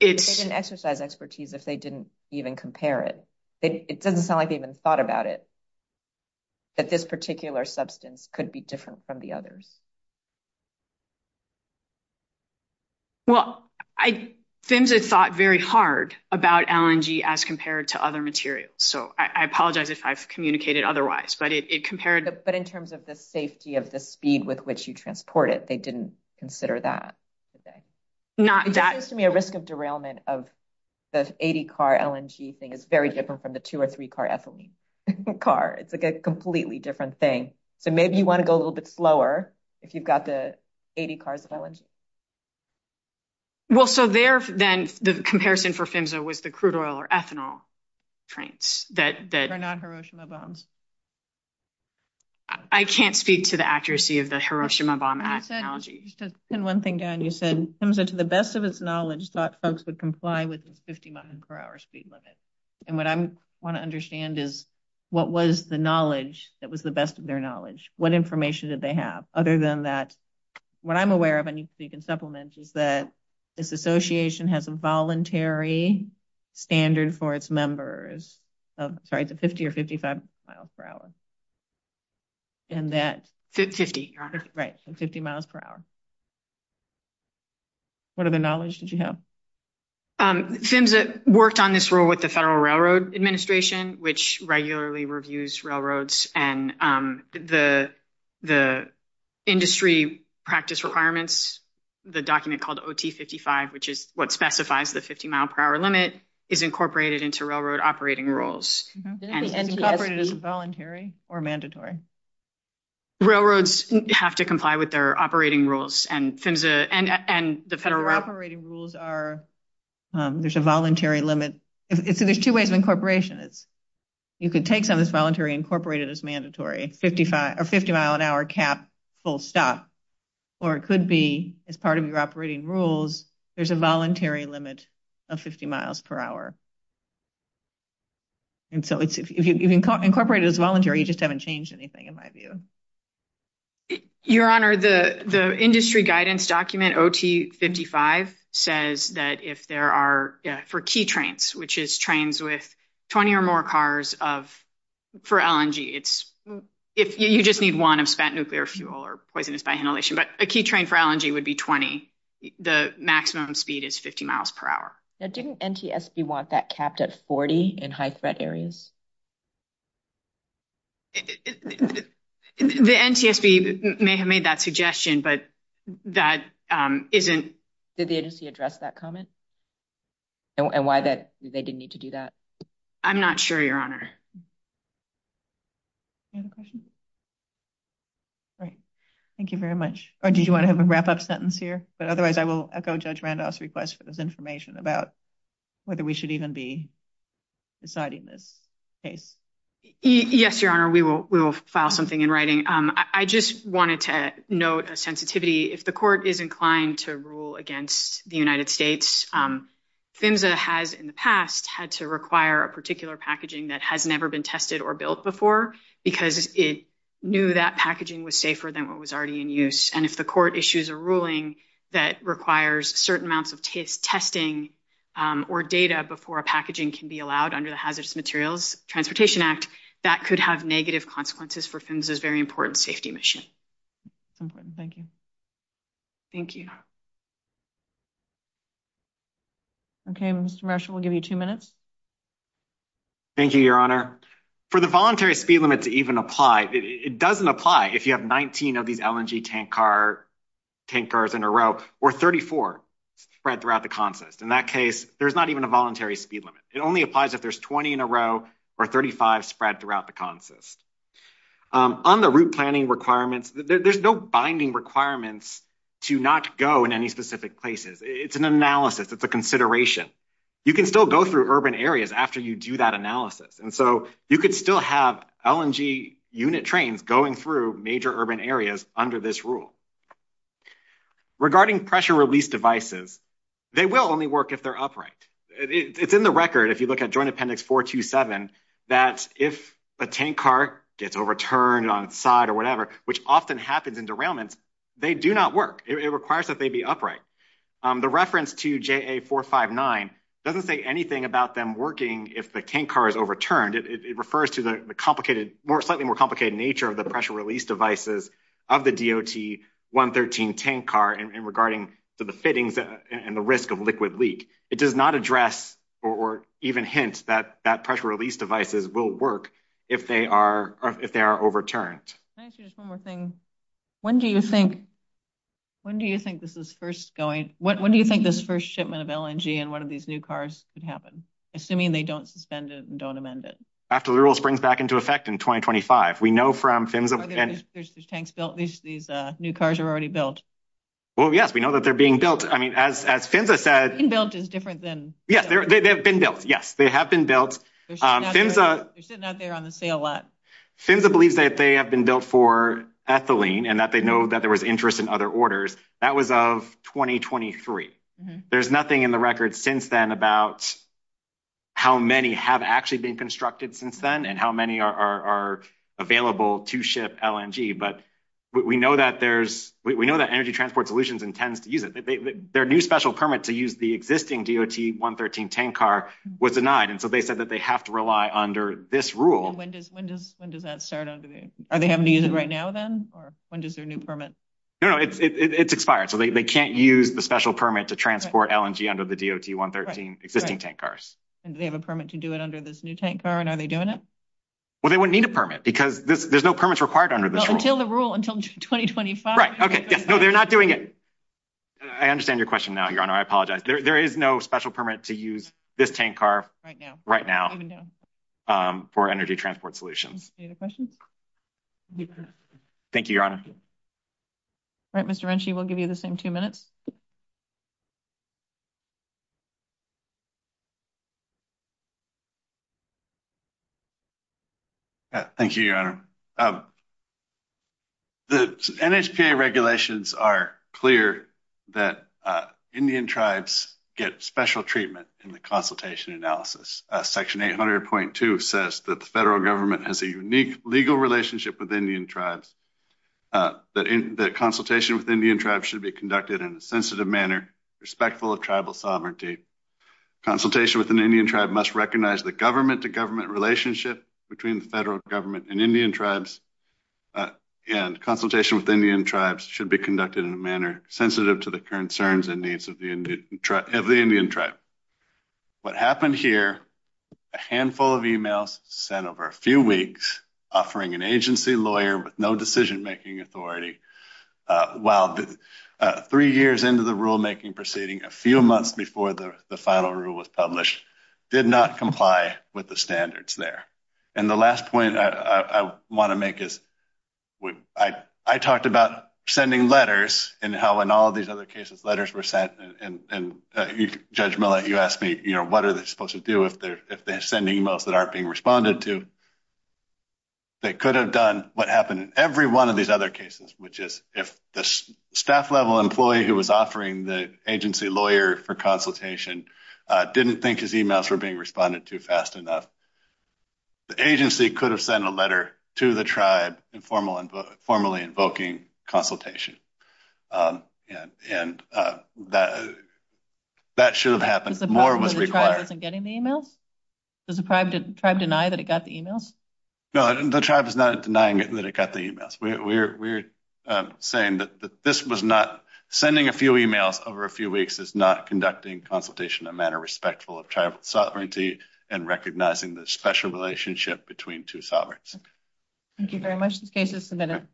it's— They didn't exercise expertise if they didn't even compare it. It doesn't sound like they even thought about it, that this particular substance could be different from the others. Well, FEMSA thought very hard about LNG as compared to other materials. So I apologize if I've communicated otherwise, but it compared— But in terms of the safety of the speed with which you transport it, they didn't consider that. That seems to me a risk of derailment of the 80-car LNG thing. It's very different from the two- or three-car ethylene car. It's, like, a completely different thing. So maybe you want to go a little bit slower if you've got the 80 cars of LNG. Well, so there, then, the comparison for FEMSA was the crude oil or ethanol trains that— Were not Hiroshima bombs. I can't speak to the accuracy of the Hiroshima bomb ethanology. And one thing, Diane, you said FEMSA, to the best of its knowledge, thought folks would comply with the 50-mile-per-hour speed limit. And what I want to understand is, what was the knowledge that was the best of their knowledge? What information did they have? Other than that, what I'm aware of—I need to speak in supplements— is that this association has a voluntary standard for its members of— Sorry, it's a 50- or 55-mile-per-hour. And that's— 50. Right, so 50 miles per hour. What other knowledge did you have? FEMSA worked on this rule with the Federal Railroad Administration, which regularly reviews railroads and the industry practice requirements. The document called OT55, which is what specifies the 50-mile-per-hour limit, is incorporated into railroad operating rules. Incorporated as voluntary or mandatory? Railroads have to comply with their operating rules, and FEMSA and the Federal Railroad— Federal operating rules are—there's a voluntary limit. There's two ways of incorporation. You could take them as voluntary and incorporate it as mandatory, a 50-mile-an-hour cap, full stop. Or it could be, as part of your operating rules, there's a voluntary limit of 50 miles per hour. And so if you've incorporated it as voluntary, you just haven't changed anything. In my view. Your Honor, the industry guidance document, OT55, says that if there are—for key trains, which is trains with 20 or more cars of—for LNG, it's—you just need one of spent nuclear fuel or poisonous by inhalation, but a key train for LNG would be 20. The maximum speed is 50 miles per hour. Didn't NTSB want that capped at 40 in high-threat areas? The NTSB may have made that suggestion, but that isn't— Did the agency address that comment? And why that—they didn't need to do that? I'm not sure, Your Honor. Any other questions? All right. Thank you very much. Or did you want to have a wrap-up sentence here? But otherwise, I will echo Judge Randolph's request for this information about whether we should even be deciding this case. Yes, Your Honor, we will file something in writing. I just wanted to note a sensitivity. If the court is inclined to rule against the United States, PHMSA has, in the past, had to require a particular packaging that has never been tested or built before because it knew that packaging was safer than what was already in use. And if the court issues a ruling that requires certain amounts of testing or data before packaging can be allowed under the hazardous materials, Transportation Act, that could have negative consequences for PHMSA's very important safety mission. Thank you. Thank you. Okay, Mr. Marshall, we'll give you two minutes. Thank you, Your Honor. For the voluntary speed limit to even apply, it doesn't apply if you have 19 of these LNG tank cars in a row or 34 spread throughout the contest. In that case, there's not even a voluntary speed limit. It only applies if there's 20 in a row or 35 spread throughout the contest. On the route planning requirements, there's no binding requirements to not go in any specific places. It's an analysis. It's a consideration. You can still go through urban areas after you do that analysis. And so you can still have LNG unit trains going through major urban areas under this rule. Regarding pressure release devices, they will only work if they're upright. It's in the record, if you look at Joint Appendix 427, that if a tank car gets overturned on side or whatever, which often happens in derailments, they do not work. It requires that they be upright. The reference to JA459 doesn't say anything about them working if the tank car is overturned. It refers to the slightly more complicated nature of the pressure release devices of the DOT 113 tank car and regarding the fittings and the risk of liquid leak. It does not address or even hint that pressure release devices will work if they are overturned. Can I ask you just one more thing? When do you think this is first going? When do you think this first shipment of LNG in one of these new cars could happen? Assuming they don't suspend it and don't amend it. After the rule springs back into effect in 2025. We know from Finsa and- There's tanks built. These new cars are already built. Well, yes, we know that they're being built. I mean, as Finsa said- Built is different than- Yes, they've been built. Yes, they have been built. They're sitting out there on the sale lot. Finsa believes that they have been built for ethylene and that they know that there was interest in other orders. That was of 2023. There's nothing in the record since then about how many have actually been constructed since then and how many are available to ship LNG, but we know that energy transport solutions intend to use it. Their new special permit to use the existing DOT-113 tank car was denied, and so they said that they have to rely under this rule. When does that start? Are they having to use it right now, then? Or when does their new permit- No, no, it's expired, so they can't use the special permit to transport LNG under the DOT-113 existing tank cars. Do they have a permit to do it under this new tank car, and are they doing it? Well, they wouldn't need a permit because there's no permits required under this rule. Until the rule, until 2025. Right, okay. No, they're not doing it. I understand your question now, Your Honor. I apologize. There is no special permit to use this tank car- Right now. Right now for energy transport solutions. Any other questions? Thank you, Your Honor. All right, Mr. Renci, we'll give you the same two minutes. Thank you, Your Honor. The NHPA regulations are clear that Indian tribes get special treatment in the consultation analysis. Section 800.2 says that the federal government has a unique legal relationship with Indian tribes, that consultation with Indian tribes should be conducted in a sensitive manner, respectful of tribal sovereignty. Consultation with an Indian tribe must recognize the government-to-government relationship between the federal government and Indian tribes, and consultation with Indian tribes should be conducted in a manner sensitive to the concerns and needs of the Indian tribe. What happened here, a handful of emails sent over a few weeks, offering an agency lawyer with no decision-making authority, while three years into the rulemaking proceeding, a few months before the final rule was published, did not comply with the standards there. And the last point I want to make is, I talked about sending letters, and how in all these other cases, letters were sent, and Judge Miller, you asked me, you know, what are they supposed to do if they're sending emails that aren't being responded to? They could have done what happened in every one of these other cases, which is if the staff-level employee who was offering the agency lawyer for consultation didn't think his emails were being responded to fast enough. The agency could have sent a letter to the tribe formally invoking consultation. And that should have happened. More was required. Was the tribe denying that it got the emails? No, the tribe is not denying that it got the emails. We're saying that this was not... Sending a few emails over a few weeks is not conducting consultation in a manner respectful of tribal sovereignty and recognizing the special relationship between two sovereigns. Thank you very much. This case is submitted.